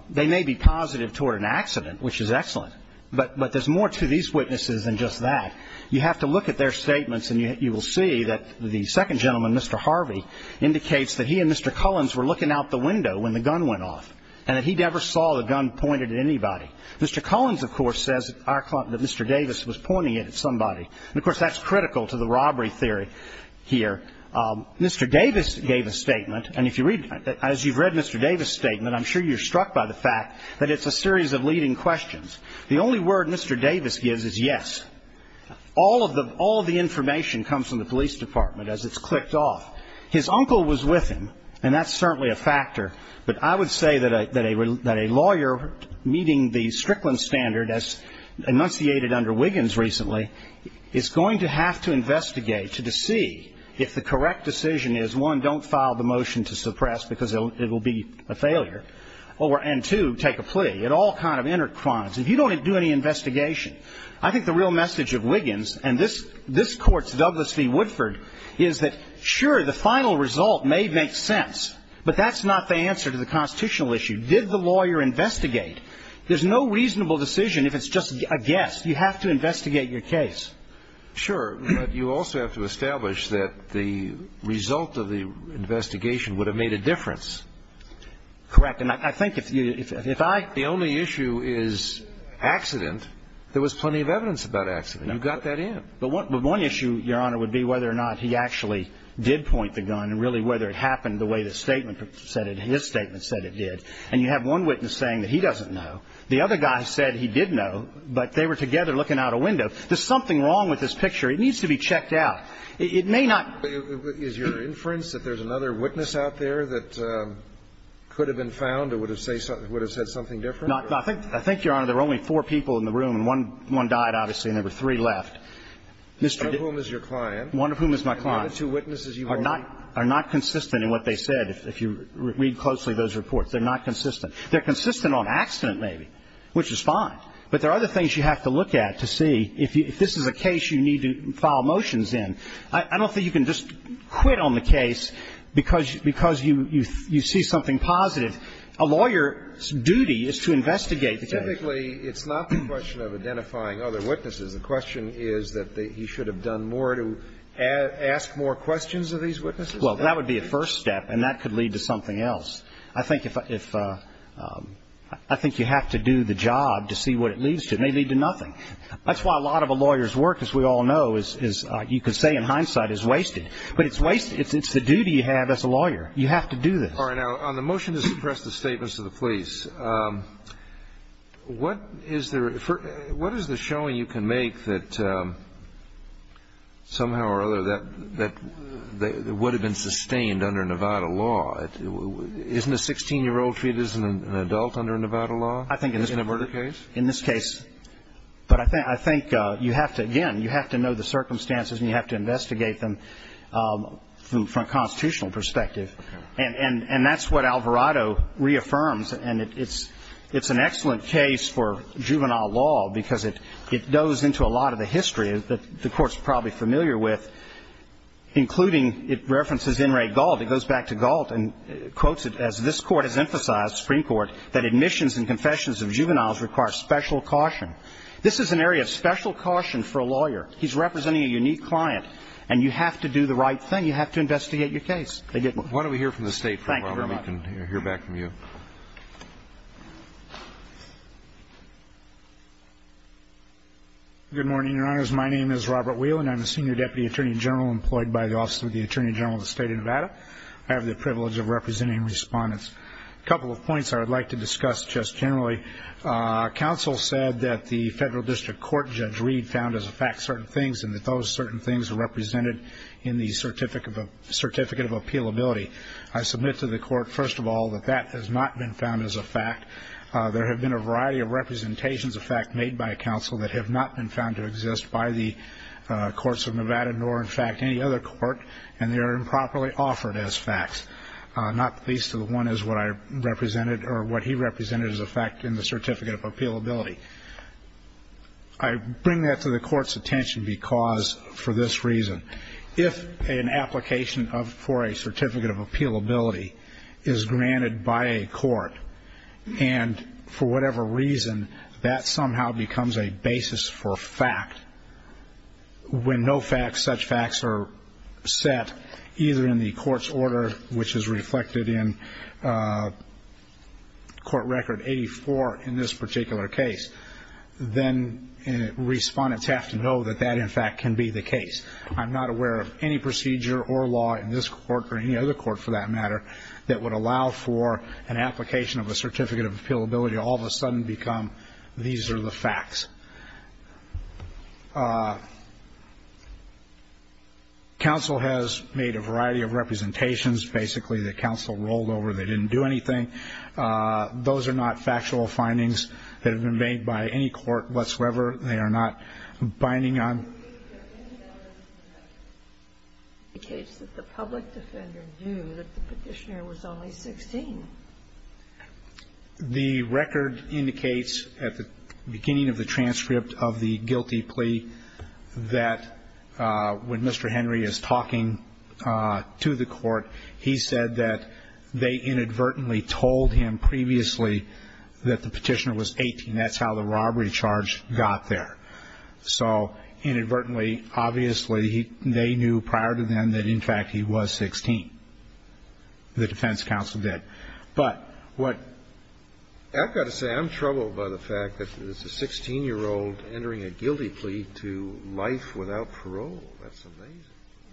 They may be positive toward an accident, which is excellent, but there's more to these witnesses than just that. You have to look at their statements, and you will see that the second gentleman, Mr. Harvey, indicates that he and Mr. Cullens were looking out the window when the gun went off and that he never saw the gun pointed at anybody. Mr. Cullens, of course, says that Mr. Davis was pointing it at somebody, and, of course, that's critical to the robbery theory here. Mr. Davis gave a statement, and if you read, as you've read Mr. Davis' statement, I'm sure you're struck by the fact that it's a series of leading questions. The only word Mr. Davis gives is yes. All of the information comes from the police department as it's clicked off. His uncle was with him, and that's certainly a factor, but I would say that a lawyer meeting the Strickland standard, as enunciated under Wiggins recently, is going to have to investigate to see if the correct decision is, one, don't file the motion to suppress because it will be a failure, and, two, take a plea. It all kind of intertwines. If you don't do any investigation, I think the real message of Wiggins, and this court's Douglas V. Woodford, is that, sure, the final result may make sense, but that's not the answer to the constitutional issue. Did the lawyer investigate? There's no reasonable decision if it's just a guess. You have to investigate your case. Sure, but you also have to establish that the result of the investigation would have made a difference. Correct, and I think that if I... The only issue is accident. There was plenty of evidence about accident. You got that in. But one issue, Your Honor, would be whether or not he actually did point the gun and really whether it happened the way his statement said it did. And you have one witness saying that he doesn't know. The other guy said he did know, but they were together looking out a window. There's something wrong with this picture. It needs to be checked out. Is your inference that there's another witness out there that could have been found or would have said something different? No, but I think, Your Honor, there were only four people in the room, and one died, obviously, and there were three left. One of whom is your client. One of whom is my client. Are the two witnesses you've heard? Are not consistent in what they said, if you read closely those reports. They're not consistent. They're consistent on accident, maybe, which is fine, but there are other things you have to look at to see if this is a case you need to file motions in. I don't think you can just quit on the case because you see something positive. A lawyer's duty is to investigate the case. Technically, it's not the question of identifying other witnesses. The question is that he should have done more to ask more questions of these witnesses. Well, that would be a first step, and that could lead to something else. I think you have to do the job to see what it leads to. It may lead to nothing. That's why a lot of a lawyer's work, as we all know, is, you could say, in hindsight, is wasted. But it's wasted. It's the duty you have as a lawyer. You have to do this. All right. Now, on the motion to suppress the statements of the police, what is the showing you can make that somehow or other that would have been sustained under Nevada law? Isn't a 16-year-old treated as an adult under Nevada law in this case? In this case. But I think, again, you have to know the circumstances and you have to investigate them from a constitutional perspective. And that's what Alvarado reaffirms, and it's an excellent case for juvenile law because it goes into a lot of the history that the Court's probably familiar with, including it references Enright Gault. It goes back to Gault and quotes it, as this Court has emphasized, Supreme Court, that admissions and confessions of juveniles require special caution. This is an area of special caution for a lawyer. He's representing a unique client, and you have to do the right thing. You have to investigate your case. Why don't we hear from the State for a moment? We can hear back from you. Good morning, Your Honors. My name is Robert Wheelan. I'm a senior deputy attorney general employed by the Office of the Attorney General of the State of Nevada. I have the privilege of representing respondents. A couple of points I would like to discuss just generally. Counsel said that the Federal District Court Judge Reed found as a fact certain things and that those certain things are represented in the Certificate of Appealability. I submit to the Court, first of all, that that has not been found as a fact. There have been a variety of representations of fact made by counsel that have not been found to exist by the courts of Nevada nor, in fact, any other court, and they are improperly offered as facts. Not least of the one is what I represented or what he represented as a fact in the Certificate of Appealability. I bring that to the Court's attention because, for this reason, if an application for a Certificate of Appealability is granted by a court and, for whatever reason, that somehow becomes a basis for fact, when no facts, such facts, are set either in the court's order, which is reflected in Court Record 84 in this particular case, then respondents have to know that that, in fact, can be the case. I'm not aware of any procedure or law in this court or any other court, for that matter, that would allow for an application of a Certificate of Appealability to all of a sudden become, these are the facts. Counsel has made a variety of representations, basically, that counsel rolled over. They didn't do anything. Those are not factual findings that have been made by any court whatsoever. They are not binding on... ...the case that the public defender knew that the petitioner was only 16. The record indicates, at the beginning of the transcript of the guilty plea, that when Mr. Henry is talking to the court, he said that they inadvertently told him previously that the petitioner was 18. That's how the robbery charge got there. So, inadvertently, obviously, they knew prior to then that, in fact, he was 16. The defense counsel did. But what... I've got to say, I'm troubled by the fact that it's a 16-year-old entering a guilty plea to life without parole. That's amazing.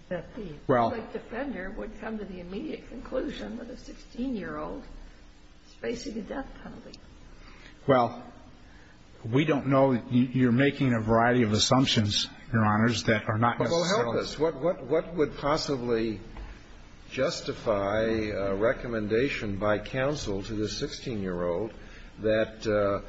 The public defender would come to the immediate conclusion that a 16-year-old is facing a death penalty. Well, we don't know. You're making a variety of assumptions, Your Honors, that are not necessarily... Well, help us. What would possibly justify a recommendation by counsel to the 16-year-old that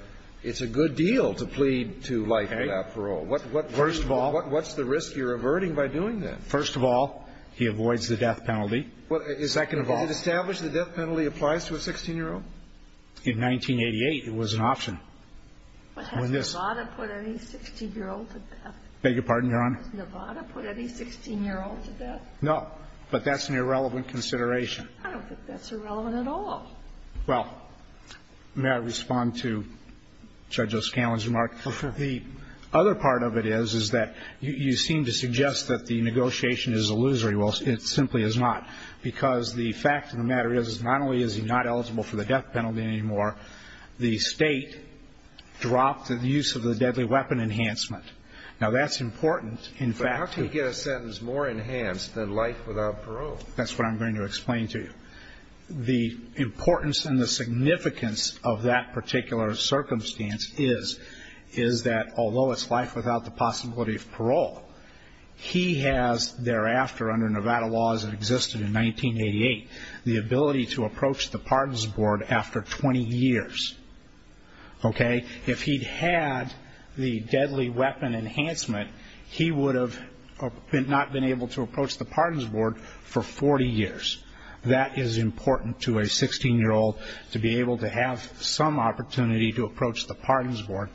it's a good deal to plead to life without parole? First of all... What's the risk you're averting by doing that? First of all, he avoids the death penalty. Well, is that going to... Does it establish the death penalty applies to a 16-year-old? In 1988, it was an option. But has Nevada put any 16-year-old to death? Beg your pardon, Your Honor? Nevada put any 16-year-old to death? No. But that's an irrelevant consideration. I don't think that's irrelevant at all. Well, may I respond to Judge O'Scallion's remark? The other part of it is that you seem to suggest that the negotiation is illusory. Well, it simply is not. Because the fact of the matter is, not only is he not eligible for the death penalty anymore, the state dropped the use of the deadly weapon enhancement. Now, that's important. But how can you get a sentence more enhanced than life without parole? That's what I'm going to explain to you. The importance and the significance of that particular circumstance is that although it's life without the possibility of parole, he has thereafter, under Nevada laws that existed in 1988, the ability to approach the pardons board after 20 years. Okay? If he'd had the deadly weapon enhancement, he would have not been able to approach the pardons board for 40 years. That is important to a 16-year-old, to be able to have some opportunity to approach the pardons board,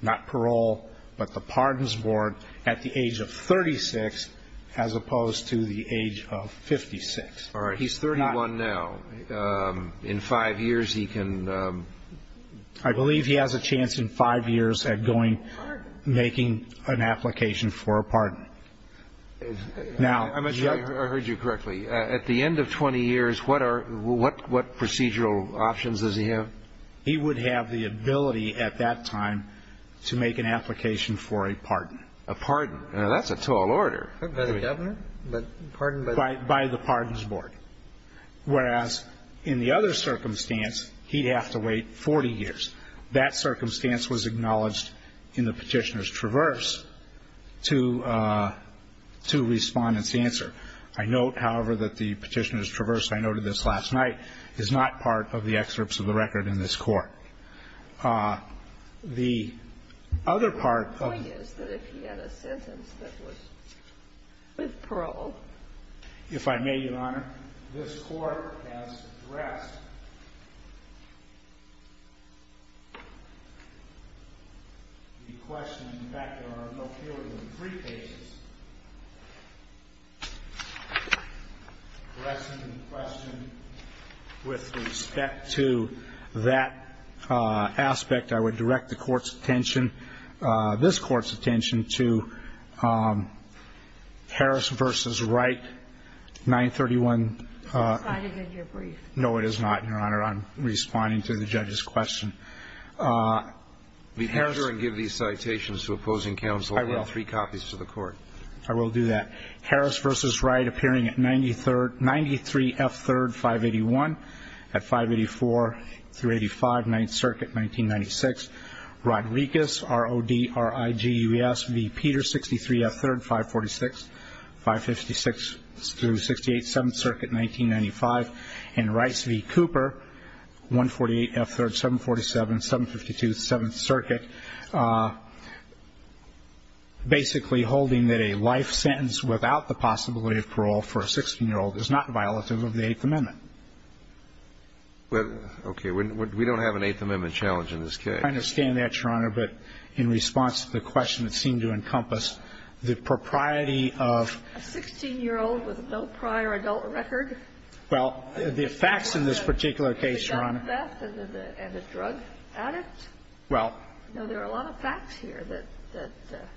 not parole, but the pardons board, at the age of 36, as opposed to the age of 56. All right. He's 31 now. In five years, he can... I believe he has a chance in five years at making an application for a pardon. I'm not sure I heard you correctly. At the end of 20 years, what procedural options does he have? He would have the ability at that time to make an application for a pardon. A pardon. Now, that's a tall order. By the pardons board. Whereas in the other circumstance, he'd have to wait 40 years. That circumstance was acknowledged in the petitioner's traverse to respondant's answer. I note, however, that the petitioner's traverse, I noted this last night, is not part of the excerpts of the record in this court. The other part of... I guess that if he had a sentence that was paroled. If I may, Your Honor, this court has addressed the question with respect to that aspect. I would direct the court's attention, this court's attention, to Harris v. Wright, 931. No, it is not, Your Honor. I'm responding to the judge's question. Be sure and give these citations to opposing counsel. I will. I have three copies to the court. I will do that. Harris v. Wright, appearing at 93 F. 3rd, 581. At 584 through 85, 9th Circuit, 1996. Rodriguez, R-O-D-R-I-G-U-E-S v. Peter, 63 F. 3rd, 546. 556 through 68, 7th Circuit, 1995. And Rice v. Cooper, 148 F. 3rd, 747, 752, 7th Circuit, basically holding that a life sentence without the possibility of parole for a 16-year-old is not violative of the Eighth Amendment. Okay, we don't have an Eighth Amendment challenge in this case. I understand that, Your Honor, but in response to the question, it seemed to encompass the propriety of... A 16-year-old with no prior adult record? Well, the facts in this particular case, Your Honor... The theft and the drug addict? Well... No, there are a lot of facts here that...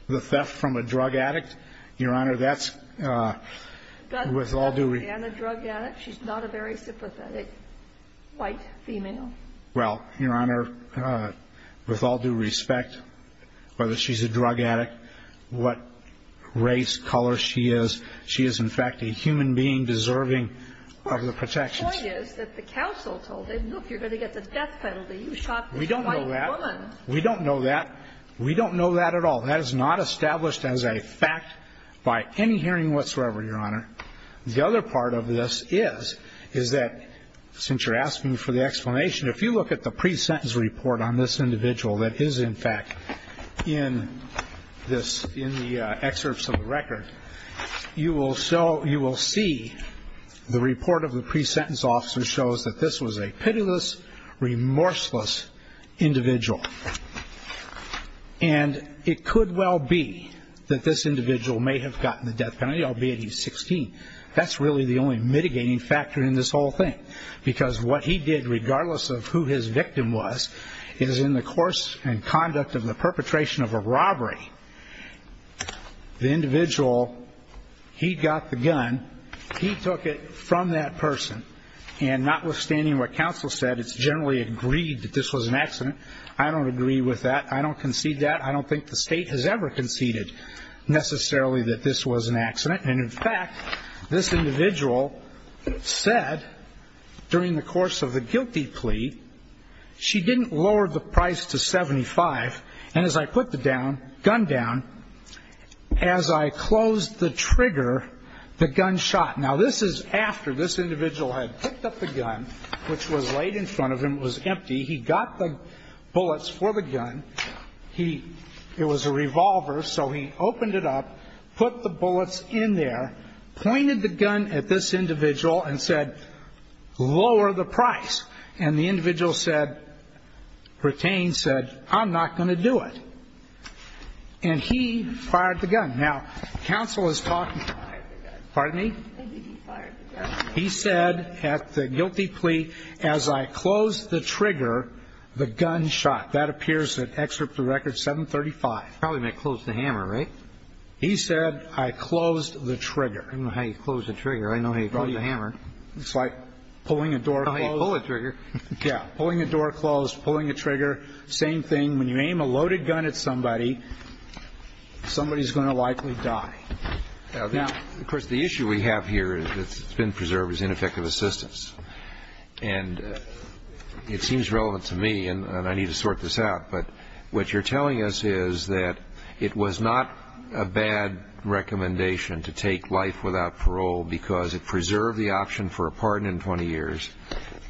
The theft from a drug addict? Your Honor, that's with all due respect... She's not a very sympathetic white female? Well, Your Honor, with all due respect, whether she's a drug addict, what race, color she is, she is, in fact, a human being deserving of the protection. The point is that the counsel told him, look, you're going to get the death penalty. You shot this white woman. We don't know that. We don't know that at all. That is not established as a fact by any hearing whatsoever, Your Honor. The other part of this is that, since you're asking for the explanation, if you look at the pre-sentence report on this individual that is, in fact, in the excerpts of the record, you will see the report of the pre-sentence officer shows that this was a pitiless, remorseless individual. And it could well be that this individual may have gotten the death penalty, albeit he's 16. That's really the only mitigating factor in this whole thing, because what he did, regardless of who his victim was, is in the course and conduct of the perpetration of a robbery, the individual, he got the gun, he took it from that person. And notwithstanding what counsel said, it's generally agreed that this was an accident. I don't agree with that. I don't concede that. I don't think the state has ever conceded, necessarily, that this was an accident. And, in fact, this individual said, during the course of the guilty plea, she didn't lower the price to 75. And as I put the gun down, as I closed the trigger, the gun shot. Now, this is after this individual had picked up the gun, which was laid in front of him. It was empty. He got the bullets for the gun. It was a revolver. So he opened it up, put the bullets in there, pointed the gun at this individual, and said, lower the price. And the individual said, retained, said, I'm not going to do it. And he fired the gun. Now, counsel is talking. Pardon me? He said, at the guilty plea, as I closed the trigger, the gun shot. That appears to excerpt the record 735. Probably meant close the hammer, right? He said, I closed the trigger. I know how you close a trigger. I know how you close a hammer. It's like pulling a door closed. How do you pull a trigger? Yeah, pulling a door closed, pulling a trigger, same thing. When you aim a loaded gun at somebody, somebody's going to likely die. Now, of course, the issue we have here that's been preserved is ineffective assistance. And it seems relevant to me, and I need to sort this out, but what you're telling us is that it was not a bad recommendation to take life without parole because it preserved the option for a pardon in 20 years,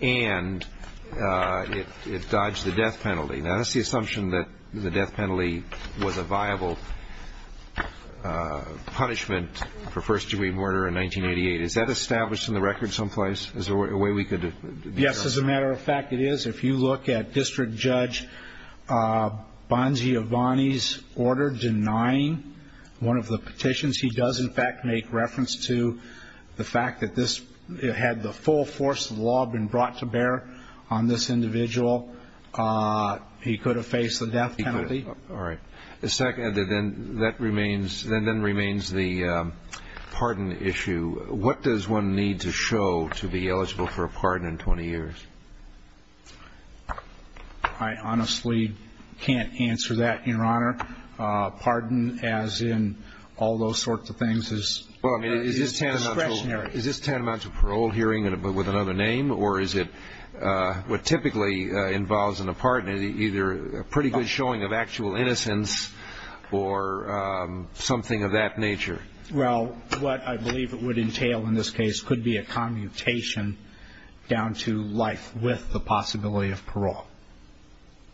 and it dodged the death penalty. Now, that's the assumption that the death penalty was a viable punishment for first-degree murder in 1988. Is that established in the record someplace as a way we could? Yes. As a matter of fact, it is. If you look at District Judge Bonzi Avani's order denying one of the petitions, he does, in fact, make reference to the fact that this, had the full force of the law been brought to bear on this individual, he could have faced the death penalty. All right. A second, and then that remains the pardon issue. What does one need to show to be eligible for a pardon in 20 years? I honestly can't answer that, Your Honor. Pardon as in all those sorts of things is discretionary. Is this tantamount to parole hearing with another name, or is it what typically involves in a pardon either a pretty good showing of actual innocence or something of that nature? Well, what I believe it would entail in this case could be a commutation down to life with the possibility of parole.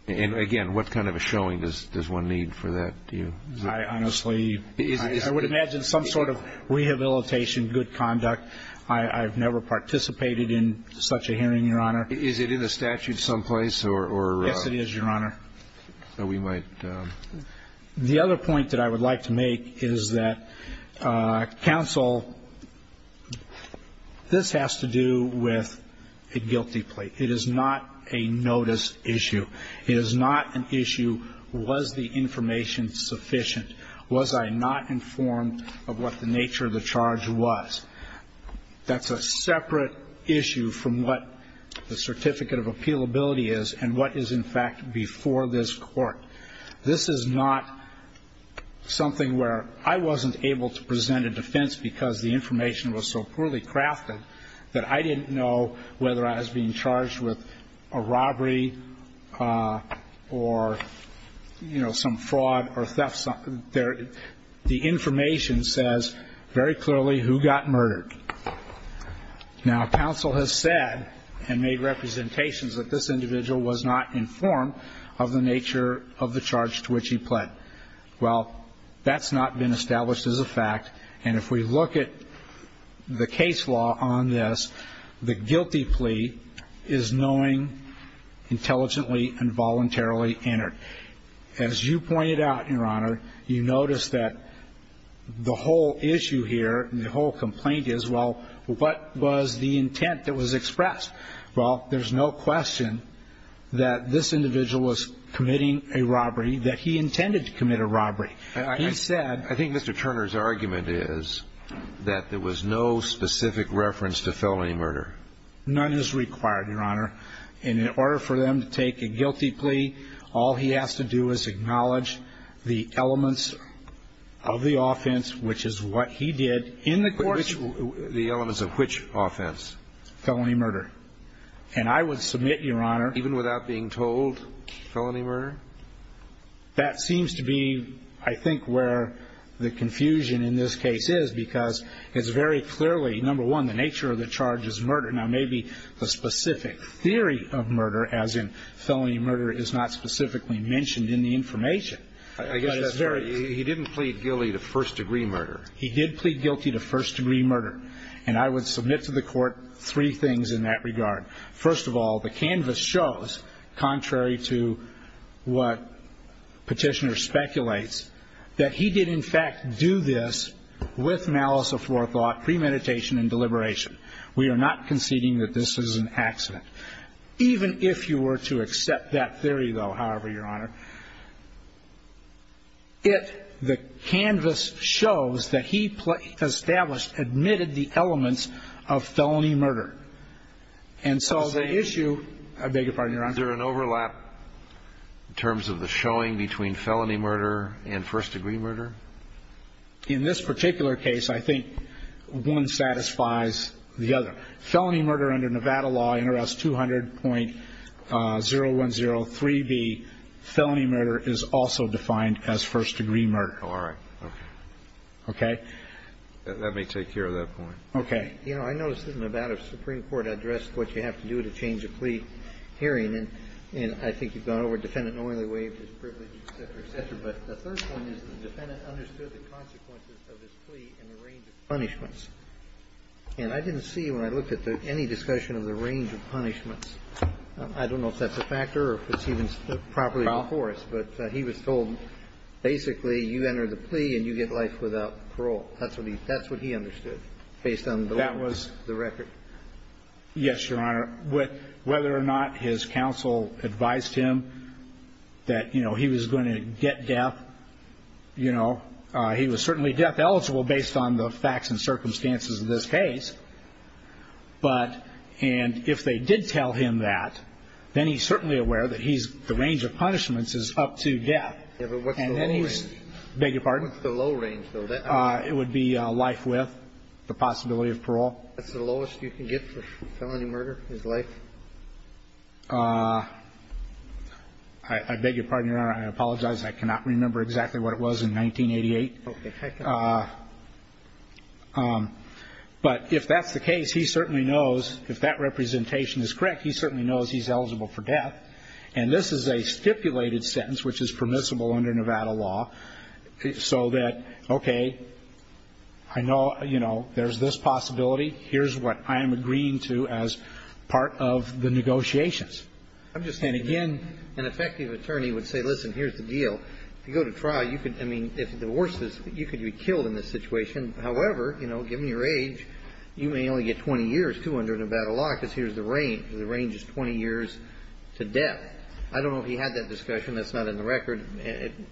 And, again, what kind of a showing does one need for that? I honestly would imagine some sort of rehabilitation, good conduct. I've never participated in such a hearing, Your Honor. Is it in the statute someplace, or? Yes, it is, Your Honor. So we might. The other point that I would like to make is that counsel, this has to do with a guilty plea. It is not a notice issue. It is not an issue, was the information sufficient? Was I not informed of what the nature of the charge was? That's a separate issue from what the certificate of appealability is and what is, in fact, before this court. This is not something where I wasn't able to present a defense because the information was so poorly crafted that I didn't know whether I was being charged with a robbery or, you know, some fraud or theft. The information says very clearly who got murdered. Now counsel has said and made representations that this individual was not informed of the nature of the charge to which he pled. Well, that's not been established as a fact. And if we look at the case law on this, the guilty plea is knowing intelligently and voluntarily entered. As you pointed out, Your Honor, you notice that the whole issue here and the whole complaint is, well, what was the intent that was expressed? Well, there's no question that this individual was committing a robbery, that he intended to commit a robbery. I think Mr. Turner's argument is that there was no specific reference to felony murder. None is required, Your Honor. And in order for them to take a guilty plea, all he has to do is acknowledge the elements of the offense, which is what he did in the court. The elements of which offense? Felony murder. And I would submit, Your Honor. Even without being told felony murder? That seems to be, I think, where the confusion in this case is because it's very clearly, number one, the nature of the charge is murder. Now maybe the specific theory of murder, as in felony murder, is not specifically mentioned in the information. He didn't plead guilty to first-degree murder. He did plead guilty to first-degree murder. And I would submit to the court three things in that regard. First of all, the canvas shows, contrary to what petitioner speculates, that he did, in fact, do this with malice aforethought, premeditation and deliberation. We are not conceding that this is an accident. Even if you were to accept that theory, though, however, Your Honor, it, the canvas shows that he established, admitted the elements of felony murder. And so the issue, I beg your pardon, Your Honor. Is there an overlap in terms of the showing between felony murder and first-degree murder? In this particular case, I think one satisfies the other. Felony murder under Nevada law, NRS 200.0103B, felony murder is also defined as first-degree murder. All right. Okay? Let me take care of that point. Okay. You know, I noticed in the Nevada Supreme Court address what you have to do to change a plea hearing. And I think you've gone over it. Defendant Norley waves his privilege. The first one is the defendant understood the consequences of his plea and the range of punishments. And I didn't see when I looked at any discussion of the range of punishments. I don't know if that's a factor or if it's even properly enforced. But he was told, basically, you enter the plea and you get life without parole. That's what he understood based on the record. Yes, Your Honor. Whether or not his counsel advised him that, you know, he was going to get death, you know, he was certainly death eligible based on the facts and circumstances of this case. But if they did tell him that, then he's certainly aware that the range of punishments is up to death. What's the low range, though? It would be life with the possibility of parole. That's the lowest you can get for someone to murder his life? I beg your pardon, Your Honor. I apologize. I cannot remember exactly what it was in 1988. Okay, thank you. But if that's the case, he certainly knows, if that representation is correct, he certainly knows he's eligible for death. And this is a stipulated sentence which is permissible under Nevada law. So that, okay, I know, you know, there's this possibility. Here's what I'm agreeing to as part of the negotiations. I'm just saying, again, an effective attorney would say, listen, here's the deal. If you go to trial, you could, I mean, if the worst is, you could be killed in this situation. However, you know, given your age, you may only get 20 years too under Nevada law because here's the range. The range is 20 years to death. I don't know if he had that discussion. That's not in the record.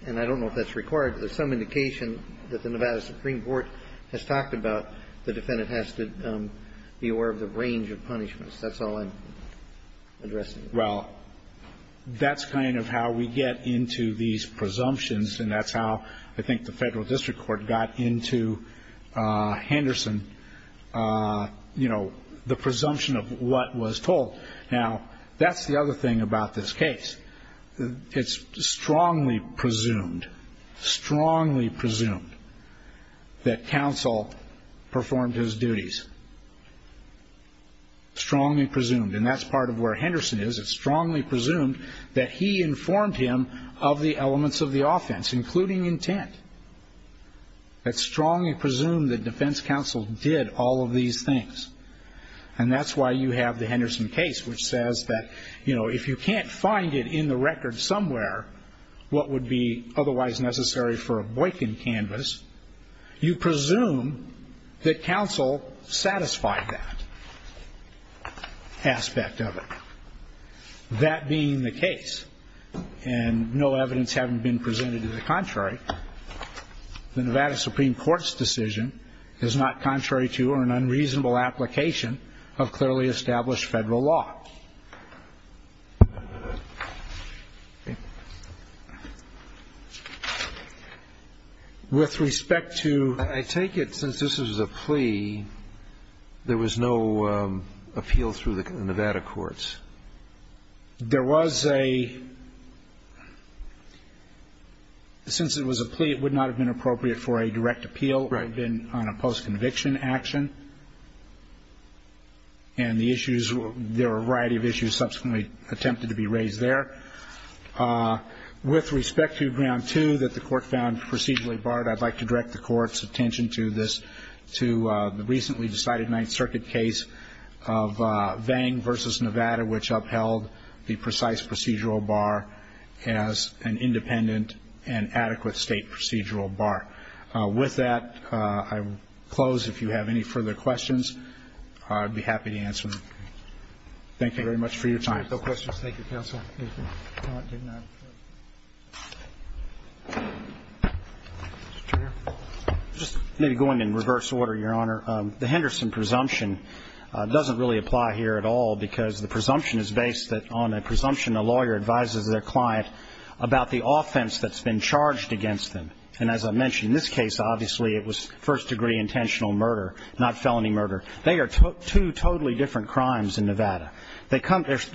And I don't know if that's required. There's some indication that the Nevada Supreme Court has talked about the defendant has to be aware of the range of punishments. That's all I'm addressing. Well, that's kind of how we get into these presumptions, and that's how I think the federal district court got into Henderson, you know, the presumption of what was told. Now, that's the other thing about this case. It's strongly presumed, strongly presumed that counsel performed his duties, strongly presumed. And that's part of where Henderson is. It's strongly presumed that he informed him of the elements of the offense, including intent. It's strongly presumed that defense counsel did all of these things. And that's why you have the Henderson case, which says that, you know, if you can't find it in the record somewhere, what would be otherwise necessary for a Boykin canvas, you presume that counsel satisfied that aspect of it. That being the case, and no evidence having been presented to the contrary, the Nevada Supreme Court's decision is not contrary to or an unreasonable application of clearly established federal law. With respect to... I take it, since this is a plea, there was no appeal through the Nevada courts. There was a... Since it was a plea, it would not have been appropriate for a direct appeal. Right. It would have been on a post-conviction action. And the issues, there were a variety of issues subsequently attempted to be raised there. With respect to ground two that the court found procedurally barred, I'd like to direct the court's attention to this, to the recently decided Ninth Circuit case of Vang versus Nevada, which upheld the precise procedural bar as an independent and adequate state procedural bar. With that, I will close. If you have any further questions, I'd be happy to answer them. Thank you very much for your time. No questions. Thank you, counsel. Just maybe going in reverse order, Your Honor. The Henderson presumption doesn't really apply here at all because the presumption is based on a presumption a lawyer advises their client about the offense that's been charged against them. And as I mentioned, in this case, obviously, it was first-degree intentional murder, not felony murder. They are two totally different crimes in Nevada. They're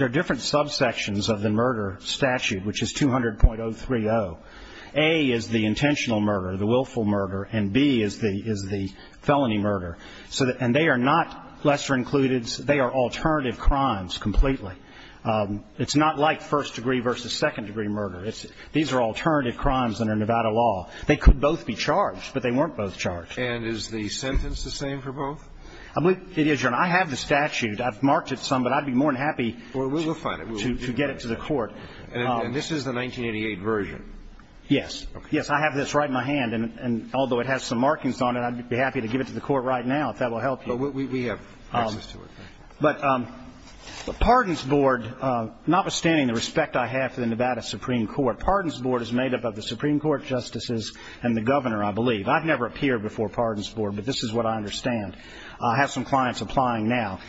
different subsections of the murder statute, which is 200.030. A is the intentional murder, the willful murder, and B is the felony murder. And they are not lesser-included. They are alternative crimes completely. It's not like first-degree versus second-degree murder. These are alternative crimes under Nevada law. They could both be charged, but they weren't both charged. And is the sentence the same for both? I believe it is, Your Honor. I have the statute. And this is the 1988 version? Yes. Yes, I have this right in my hand, and although it has some markings on it, I'd be happy to give it to the court right now if that will help you. But we have access to it. But Pardons Board, notwithstanding the respect I have for the Nevada Supreme Court, Pardons Board is made up of the Supreme Court justices and the governor, I believe. I've never appeared before Pardons Board, but this is what I understand. I have some clients applying now.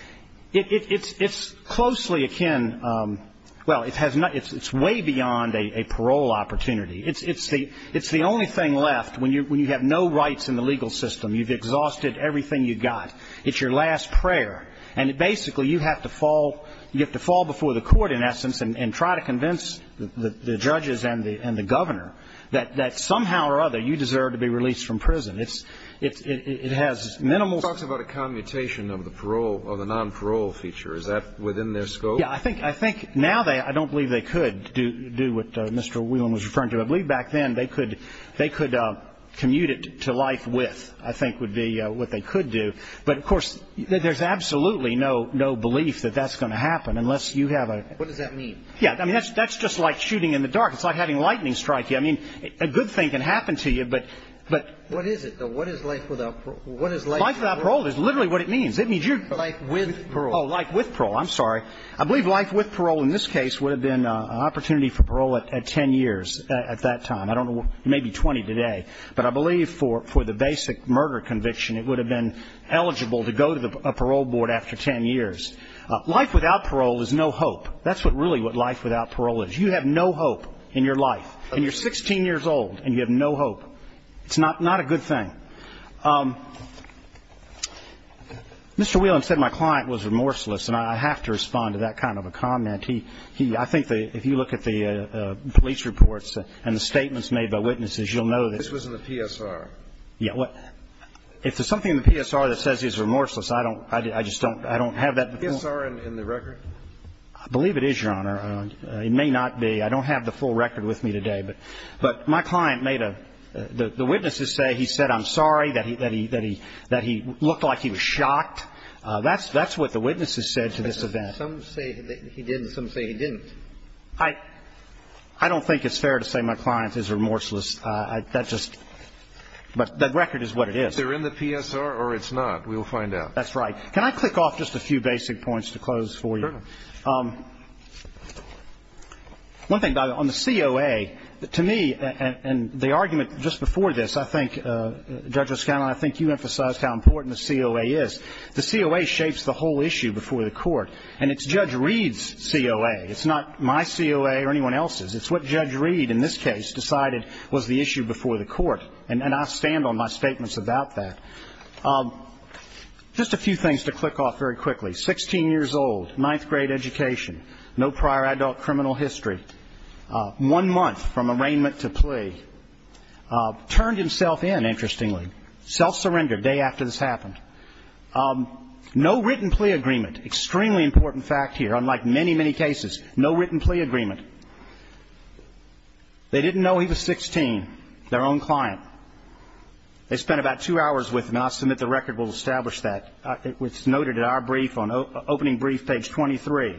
It's closely akin, well, it's way beyond a parole opportunity. It's the only thing left when you have no rights in the legal system. You've exhausted everything you've got. It's your last prayer. And basically you have to fall before the court, in essence, and try to convince the judges and the governor that somehow or other you deserve to be released from prison. It has minimal... He talks about a commutation of the parole or the non-parole feature. Is that within their scope? Yes, I think now I don't believe they could do what Mr. Whelan was referring to. I believe back then they could commute it to life with, I think would be what they could do. But, of course, there's absolutely no belief that that's going to happen unless you have a... What does that mean? Yes, that's just like shooting in the dark. It's like having lightning strike you. I mean, a good thing can happen to you, but... What is it, though? Life without parole is literally what it means. Life with parole. Oh, life with parole, I'm sorry. I believe life with parole in this case would have been an opportunity for parole at 10 years at that time. I don't know, maybe 20 today. But I believe for the basic murder conviction it would have been eligible to go to a parole board after 10 years. Life without parole is no hope. That's really what life without parole is. You have no hope in your life. And you're 16 years old and you have no hope. It's not a good thing. Mr. Whelan said my client was remorseless, and I have to respond to that kind of a comment. I think that if you look at the police reports and the statements made by witnesses, you'll know that... This was in the PSR. If there's something in the PSR that says he's remorseless, I just don't have that... PSR and the record. I believe it is, Your Honor. It may not be. I don't have the full record with me today. But my client made a... The witnesses say he said, I'm sorry, that he looked like he was shocked. That's what the witnesses said to this event. Some say he didn't. Some say he didn't. I don't think it's fair to say my client is remorseless. That's just... But the record is what it is. Is it in the PSR or it's not? We'll find out. That's right. Can I click off just a few basic points to close for you? Certainly. One thing, on the COA, to me, and the argument just before this, I think, Judge O'Scannon, I think you emphasized how important the COA is. The COA shapes the whole issue before the court. And it's Judge Reed's COA. It's not my COA or anyone else's. It's what Judge Reed, in this case, decided was the issue before the court. And I stand on my statements about that. Just a few things to click off very quickly. Sixteen years old. Ninth grade education. No prior adult criminal history. One month from arraignment to plea. Turned himself in, interestingly. Self-surrendered the day after this happened. No written plea agreement. Extremely important fact here, unlike many, many cases. No written plea agreement. They didn't know he was 16, their own client. They spent about two hours with him. I'll submit the record will establish that. It's noted in our brief on opening brief page 23.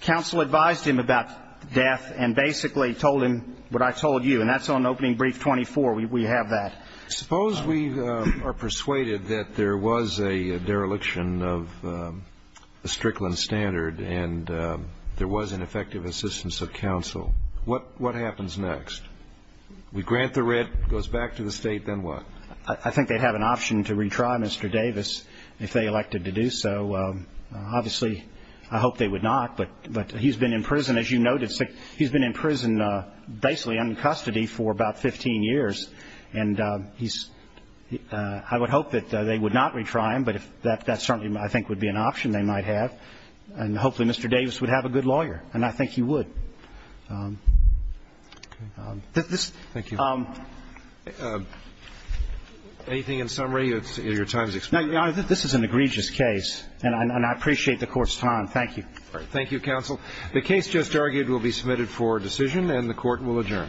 Counsel advised him about death and basically told him what I told you, and that's on opening brief 24. We have that. Suppose we are persuaded that there was a dereliction of the Strickland standard and there was an effective assistance of counsel. What happens next? We grant the writ, it goes back to the state, then what? I think they'd have an option to retry Mr. Davis if they elected to do so. Obviously, I hope they would not, but he's been in prison, as you noted. He's been in prison basically in custody for about 15 years, and I would hope that they would not retry him, but that certainly I think would be an option they might have, and hopefully Mr. Davis would have a good lawyer, and I think he would. Thank you. Anything in summary? Your time is expired. This is an egregious case, and I appreciate the court's time. Thank you. Thank you, counsel. The case just argued will be submitted for decision, and the court will adjourn.